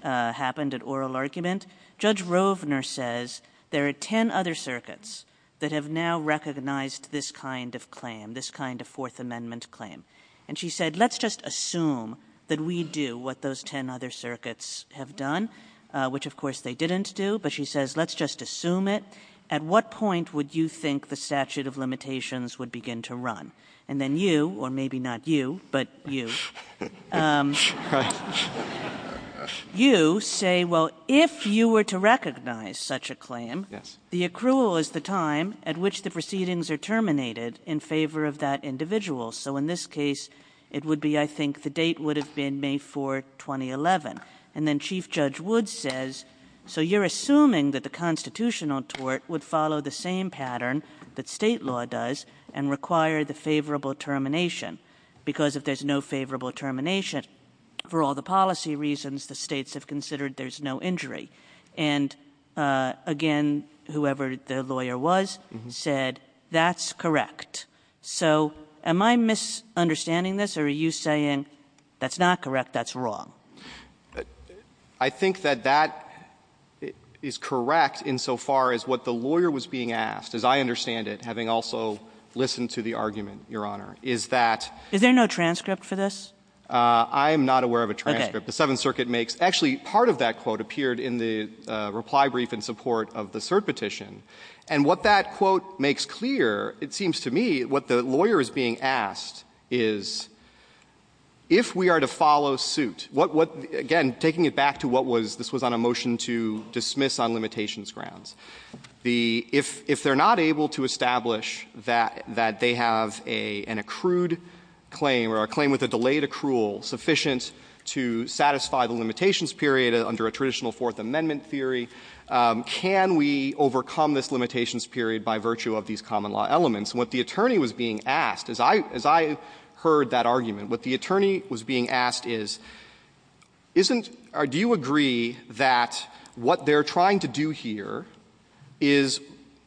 happened at oral argument. Judge Rovner says there are ten other circuits that have now recognized this kind of claim, this kind of Fourth Amendment claim. And she said, let's just assume that we do what those ten other circuits have done, which, of course, they didn't do. But she says, let's just assume it. At what point would you think the statute of limitations would begin to run? And then you — or maybe not you, but you — Right. You say, well, if you were to recognize such a claim — Yes. — the accrual is the time at which the proceedings are terminated in favor of that individual. So in this case, it would be — I think the date would have been May 4, 2011. And then Chief Judge Wood says, so you're assuming that the constitutional tort would follow the same pattern that State law does and require the favorable termination, because if there's no favorable termination, for all the policy reasons, the States have considered there's no injury. And again, whoever the lawyer was said, that's correct. So am I misunderstanding this, or are you saying that's not correct, that's wrong? I think that that is correct insofar as what the lawyer was being asked, as I understand it, having also listened to the argument, Your Honor, is that — Is there no transcript for this? I am not aware of a transcript. The Seventh Circuit makes — actually, part of that quote appeared in the reply brief in support of the cert petition. And what that quote makes clear, it seems to me, what the lawyer is being asked is, if we are to follow suit, what — again, taking it back to what was — this was on a motion to dismiss on limitations grounds. The — if they're not able to establish that they have an accrued claim or a claim with a delayed accrual sufficient to satisfy the limitations period under a traditional Fourth Amendment theory, can we overcome this limitations period by virtue of these common law elements? What the attorney was being asked, as I — as I heard that argument, what the attorney was being asked is, isn't — do you agree that what they're trying to do here is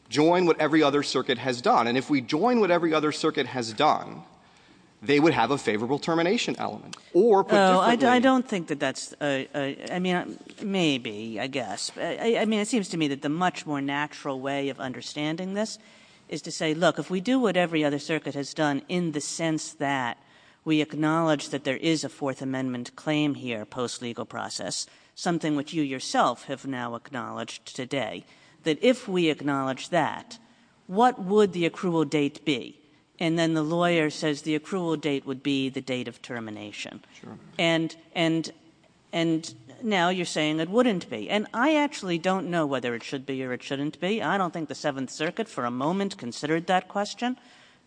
join what every other circuit has done? And if we join what every other circuit has done, they would have a favorable termination element. Or — Oh, I don't think that that's — I mean, maybe, I guess. I mean, it seems to me that the much more natural way of understanding this is to say, look, if we do what every other circuit has done in the sense that we acknowledge that there is a Fourth Amendment claim here, post-legal process, something which you yourself have now acknowledged today, that if we acknowledge that, what would the accrual date be? And then the lawyer says the accrual date would be the date of termination. Sure. And — and — and now you're saying it wouldn't be. And I actually don't know whether it should be or it shouldn't be. I don't think the Seventh Circuit, for a moment, considered that question.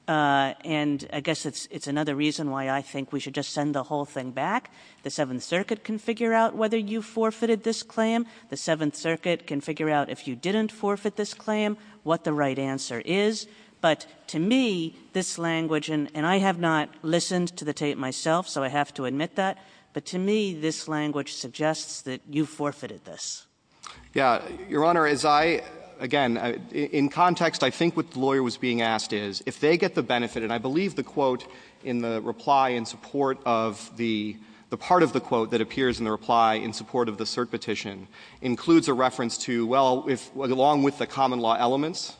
And I guess it's another reason why I think we should just send the whole thing back. The Seventh Circuit can figure out whether you forfeited this claim. The Seventh Circuit can figure out if you didn't forfeit this claim, what the right answer is. But to me, this language — and I have not listened to the tape myself, so I have to admit that — but to me, this language suggests that you forfeited this. Yeah. Your Honor, as I — again, in context, I think what the lawyer was being asked is, if they get the benefit — and I believe the quote in the reply in support of the — the part of the quote that appears in the reply in support of the cert petition includes a reference to, well, if — along with the common law elements,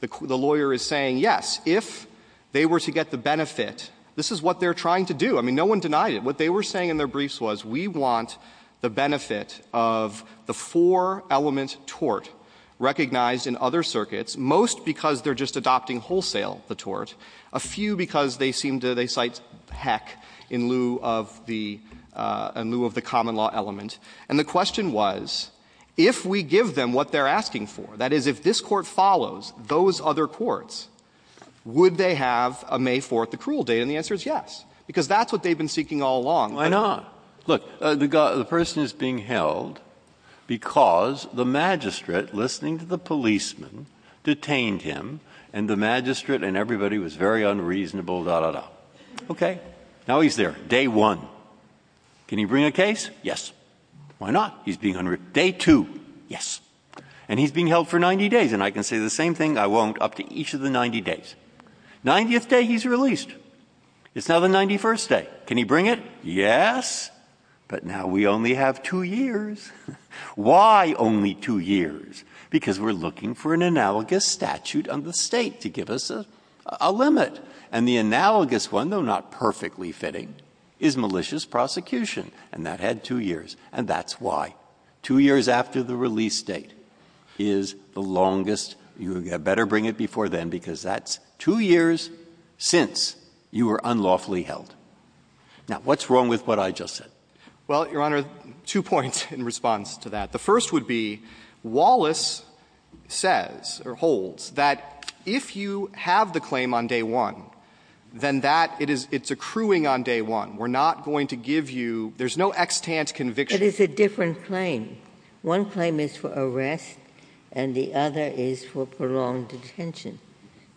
the lawyer is saying, yes, if they were to get the benefit, this is what they're trying to do. I mean, no one denied it. What they were saying in their briefs was, we want the benefit of the four-element tort recognized in other circuits, most because they're just adopting wholesale the tort, a few because they seem to — they cite heck in lieu of the — in lieu of the common law element. And the question was, if we give them what they're asking for, that is, if this court follows those other courts, would they have a May 4th accrual date? And the answer is yes, because that's what they've been seeking all along. Why not? Look, the person is being held because the magistrate, listening to the policeman, detained him, and the magistrate and everybody was very unreasonable, da, da, da. Okay? Now he's there. Day one. Can he bring a case? Yes. Why not? He's being — day two. Yes. And he's being held for 90 days. And I can say the same thing — I won't — up to each of the 90 days. 90th day he's released. It's now the 91st day. Can he bring it? Yes. But now we only have two years. Why only two years? Because we're looking for an analogous statute on the State to give us a limit. And the analogous one, though not perfectly fitting, is malicious prosecution. And that had two years. And that's why two years after the release date is the longest — you better bring it before then because that's two years since you were unlawfully held. Now, what's wrong with what I just said? Well, Your Honor, two points in response to that. The first would be, Wallace says, or holds, that if you have the claim on day one, then that — it is — it's accruing on day one. We're not going to give you — there's no extant conviction. It is a different claim. One claim is for arrest, and the other is for prolonged detention.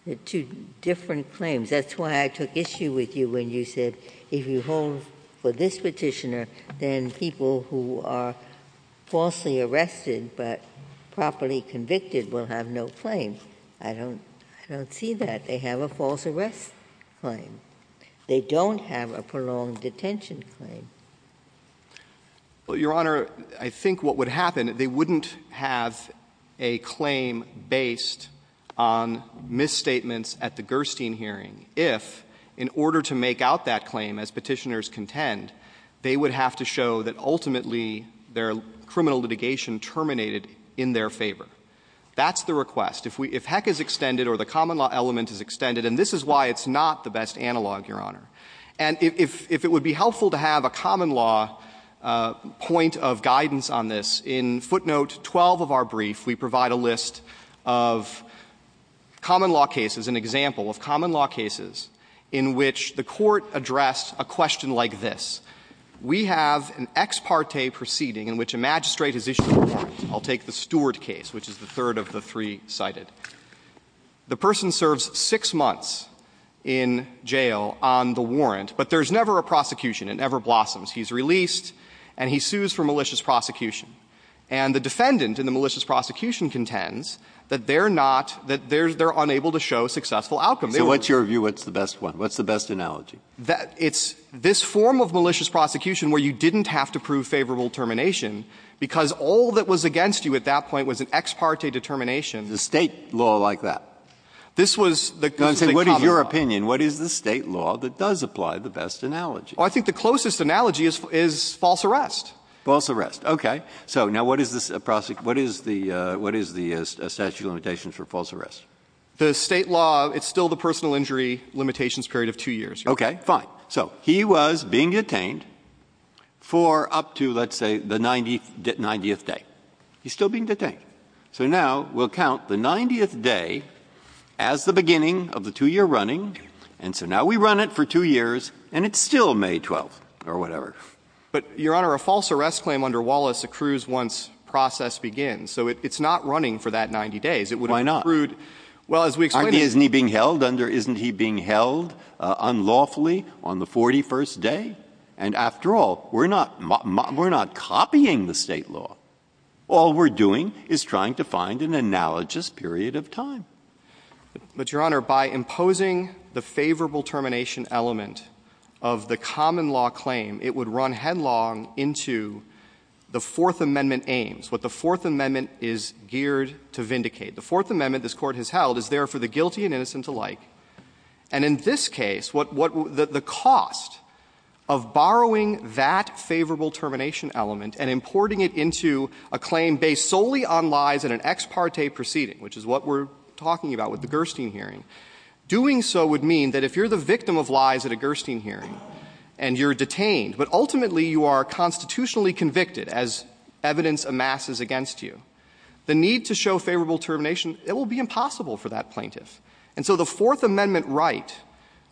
They're two different claims. That's why I took issue with you when you said, if you hold for this petitioner, then people who are falsely arrested but properly convicted will have no claim. I don't — I don't see that. They have a false arrest claim. They don't have a prolonged detention claim. Well, Your Honor, I think what would happen, they wouldn't have a claim based on misstatements at the Gerstein hearing if, in order to make out that claim, as petitioners contend, they would have to show that ultimately their criminal litigation terminated in their favor. That's the request. If we — if heck is extended or the common law element is extended — and this is why it's not the best analog, Your Honor — and if it would be helpful to have a common law point of guidance on this, in footnote 12 of our brief, we provide a list of common law cases, an example of common law cases in which the court addressed a question like this. We have an ex parte proceeding in which a magistrate has issued a warrant. I'll take the Stewart case, which is the third of the three cited. The person serves six months in jail on the warrant, but there's never a prosecution. It never blossoms. He's released, and he sues for malicious prosecution. And the defendant in the malicious prosecution contends that they're not — that they're unable to show successful outcome. They weren't. So what's your view? What's the best one? What's the best analogy? It's this form of malicious prosecution where you didn't have to prove favorable termination because all that was against you at that point was an ex parte determination. The State law like that? This was the common law. What is your opinion? What is the State law that does apply the best analogy? I think the closest analogy is false arrest. False arrest. Okay. So now what is the statute of limitations for false arrest? The State law, it's still the personal injury limitations period of two years. Okay, fine. So he was being detained for up to, let's say, the 90th day. He's still being detained. So now we'll count the 90th day as the beginning of the two-year running, and so now we run it for two years, and it's still May 12th or whatever. But, Your Honor, a false arrest claim under Wallace accrues once process begins. So it's not running for that 90 days. Why not? It would have accrued. Well, as we explain it. I mean, isn't he being held unlawfully on the 41st day? And after all, we're not copying the State law. All we're doing is trying to find an analogous period of time. But, Your Honor, by imposing the favorable termination element of the common law claim, it would run headlong into the Fourth Amendment aims, what the Fourth Amendment is geared to vindicate. The Fourth Amendment, this Court has held, is there for the guilty and innocent alike. And in this case, the cost of borrowing that favorable termination element and importing it into a claim based solely on lies in an ex parte proceeding, which is what we're talking about with the Gerstein hearing, doing so would mean that if you're the victim of lies at a Gerstein hearing and you're detained, but ultimately you are constitutionally convicted as evidence amasses against you, the need to show favorable termination, it will be impossible for that plaintiff. And so the Fourth Amendment right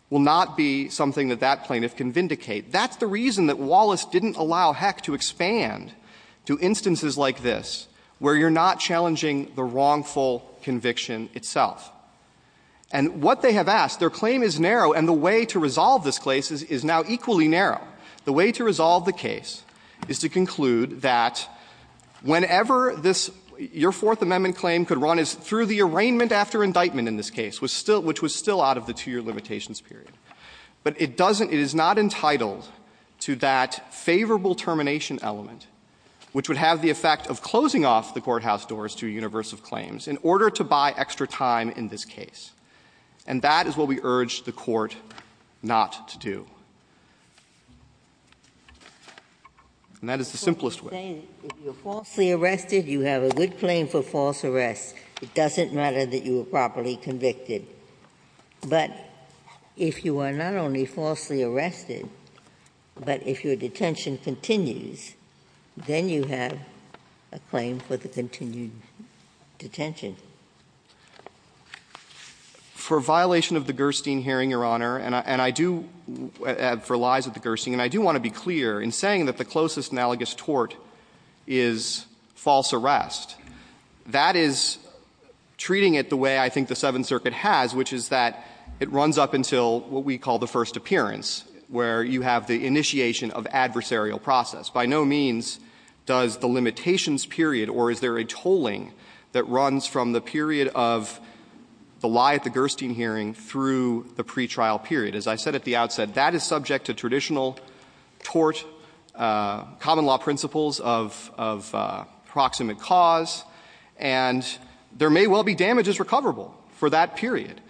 will not be something that that plaintiff can vindicate. That's the reason that Wallace didn't allow Heck to expand to instances like this, where you're not challenging the wrongful conviction itself. And what they have asked, their claim is narrow, and the way to resolve this case is now equally narrow. The way to resolve the case is to conclude that whenever this — your Fourth Amendment claim could run through the arraignment after indictment in this case, which was still out of the two-year limitations period. But it doesn't — it is not entitled to that favorable termination element, which would have the effect of closing off the courthouse doors to a universe of claims in order to buy extra time in this case. And that is what we urge the Court not to do. And that is the simplest way. Ginsburg. If you're falsely arrested, you have a good claim for false arrest. It doesn't matter that you were properly convicted. But if you are not only falsely arrested, but if your detention continues, then you have a claim for the continued detention. For violation of the Gerstein hearing, Your Honor, and I do — for lies at the Gerstein, and I do want to be clear in saying that the closest analogous tort is false arrest, that is treating it the way I think the Seventh Circuit has, which is that it runs up until what we call the first appearance, where you have the initiation of adversarial process. By no means does the limitations period or is there a tolling that runs from the period of the lie at the Gerstein hearing through the pretrial period. As I said at the outset, that is subject to traditional tort, common law principles of proximate cause, and there may well be damages recoverable for that period.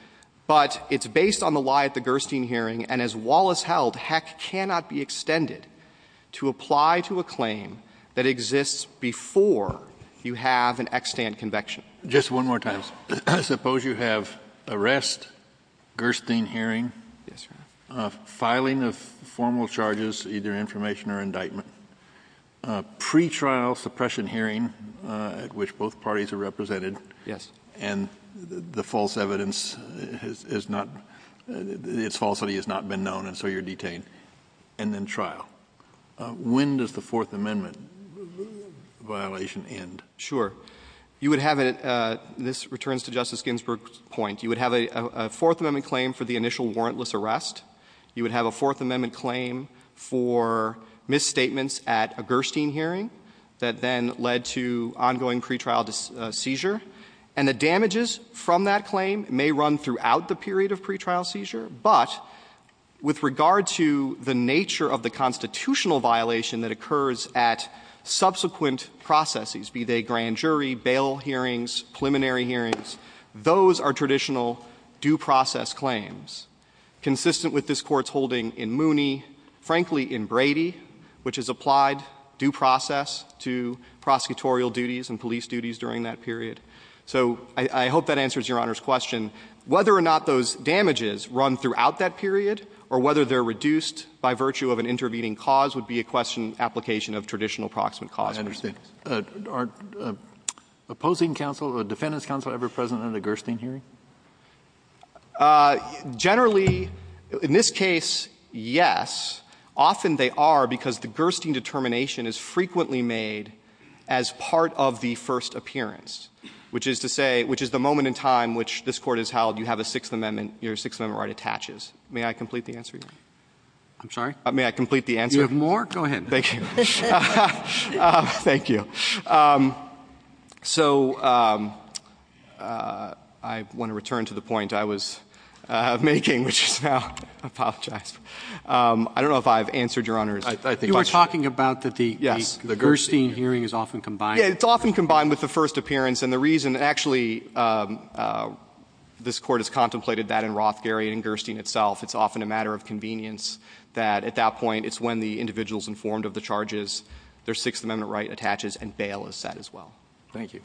But it's based on the lie at the Gerstein hearing, and as Wallace held, heck, cannot be extended to apply to a claim that exists before you have an extant conviction. Kennedy. Just one more time. Suppose you have arrest, Gerstein hearing, filing of formal charges, either information or indictment, pretrial suppression hearing at which both parties are represented — Yes. — and the false evidence is not — its falsity has not been known, and so you're detained, and then trial. When does the Fourth Amendment violation end? Sure. You would have it — this returns to Justice Ginsburg's point. You would have a Fourth Amendment claim for the initial warrantless arrest. You would have a Fourth Amendment claim for misstatements at a Gerstein hearing that then led to ongoing pretrial seizure. And the damages from that claim may run throughout the period of pretrial seizure, but with regard to the nature of the constitutional violation that occurs at subsequent processes, be they grand jury, bail hearings, preliminary hearings, those are traditional due process claims. Consistent with this Court's holding in Mooney, frankly, in Brady, which has applied due process to prosecutorial duties and police duties during that period. So I hope that answers Your Honor's question. Whether or not those damages run throughout that period or whether they're reduced by virtue of an intervening cause would be a question — application of traditional proximate cause. I understand. Are opposing counsel — defendants counsel ever present at a Gerstein hearing? Generally, in this case, yes. Often they are because the Gerstein determination is frequently made as part of the first appearance, which is to say — which is the moment in time which this Court has held you have a Sixth Amendment — your Sixth Amendment right attaches. May I complete the answer, Your Honor? I'm sorry? May I complete the answer? You have more? Go ahead. Thank you. Thank you. So I want to return to the point I was making, which is now — I apologize. I don't know if I've answered Your Honor's question. You were talking about that the — Yes. The Gerstein hearing is often combined. It's often combined with the first appearance. And the reason — actually, this Court has contemplated that in Roth, Gary, and in Gerstein itself. It's often a matter of convenience that at that point it's when the individual is informed of the charges, their Sixth Amendment right attaches, and bail is set as well. Thank you.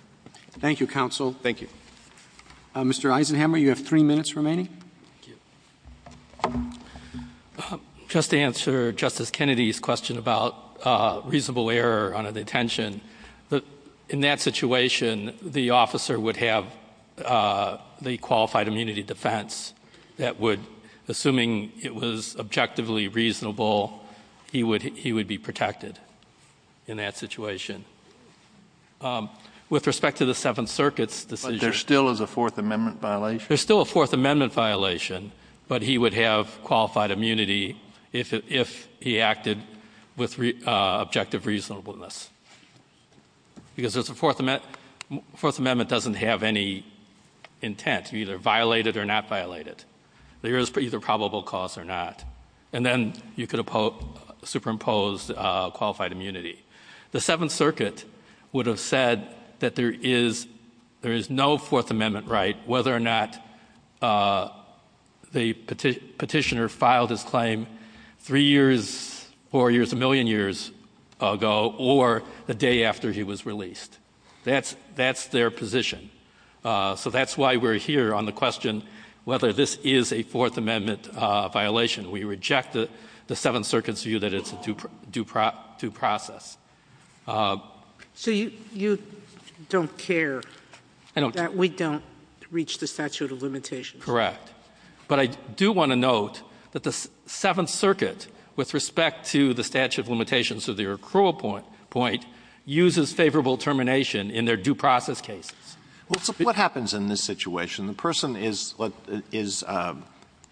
Thank you, counsel. Thank you. Mr. Eisenhamer, you have three minutes remaining. Thank you. Just to answer Justice Kennedy's question about reasonable error on a detention, in that situation, the officer would have the qualified immunity defense that would — assuming it was objectively reasonable, he would be protected in that situation. With respect to the Seventh Circuit's decision — But there still is a Fourth Amendment violation? There's still a Fourth Amendment violation. But he would have qualified immunity if he acted with objective reasonableness. Because the Fourth Amendment doesn't have any intent to either violate it or not violate it. There is either probable cause or not. And then you could superimpose qualified immunity. The Seventh Circuit would have said that there is no Fourth Amendment right whether or not the petitioner filed his claim three years, four years, a million years ago, or the day after he was released. That's their position. So that's why we're here on the question whether this is a Fourth Amendment violation. We reject the Seventh Circuit's view that it's a due process. So you don't care that we don't reach the statute of limitations? Correct. But I do want to note that the Seventh Circuit, with respect to the statute of limitations of their accrual point, uses favorable termination in their due process cases. What happens in this situation? The person is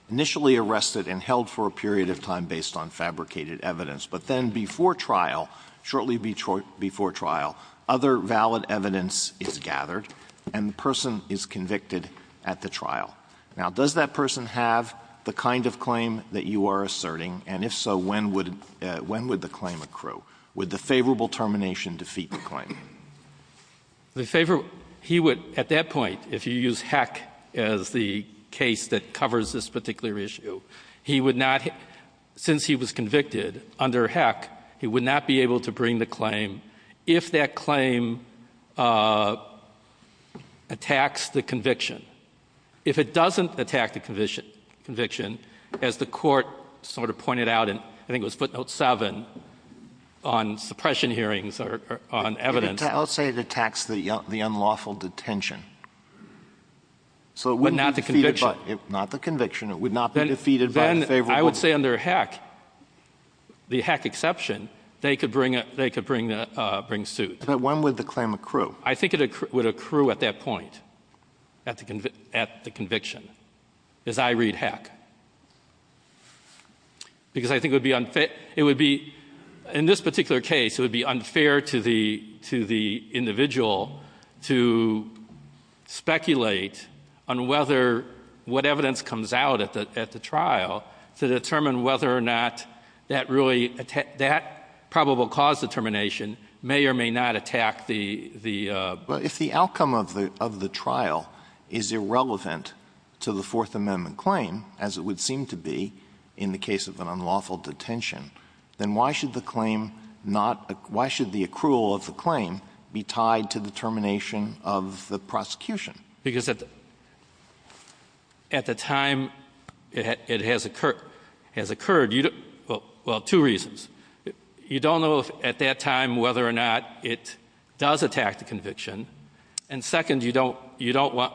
initially arrested and held for a period of time based on fabricated evidence. But then before trial, shortly before trial, other valid evidence is gathered, and the person is convicted at the trial. Now, does that person have the kind of claim that you are asserting? And if so, when would the claim accrue? Would the favorable termination defeat the claim? The favorable, he would, at that point, if you use Heck as the case that covers this particular issue, he would not, since he was convicted under Heck, he would not be able to bring the claim if that claim attacks the conviction. If it doesn't attack the conviction, as the court sort of pointed out in, I think suppression hearings or on evidence. I'll say it attacks the unlawful detention. So it would not be defeated by the conviction. Not the conviction. It would not be defeated by the favorable. I would say under Heck, the Heck exception, they could bring suit. But when would the claim accrue? I think it would accrue at that point, at the conviction, as I read Heck. Because I think it would be unfair, it would be, in this particular case, it would be unfair to the individual to speculate on whether, what evidence comes out at the trial to determine whether or not that really, that probable cause determination may or may not attack the. Well, if the outcome of the trial is irrelevant to the Fourth Amendment claim, as it would seem to be in the case of an unlawful detention, then why should the claim not, why should the accrual of the claim be tied to the termination of the prosecution? Because at the time it has occurred, well, two reasons. You don't know at that time whether or not it does attack the conviction. And second, you don't want,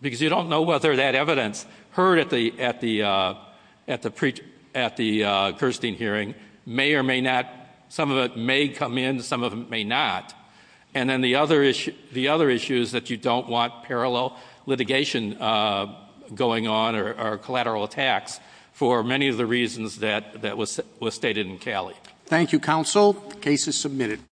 because you don't know whether that evidence heard at the Kirstein hearing may or may not, some of it may come in, some of it may not. And then the other issue is that you don't want parallel litigation going on or collateral attacks for many of the reasons that was stated in Caley. Thank you, counsel. The case is submitted.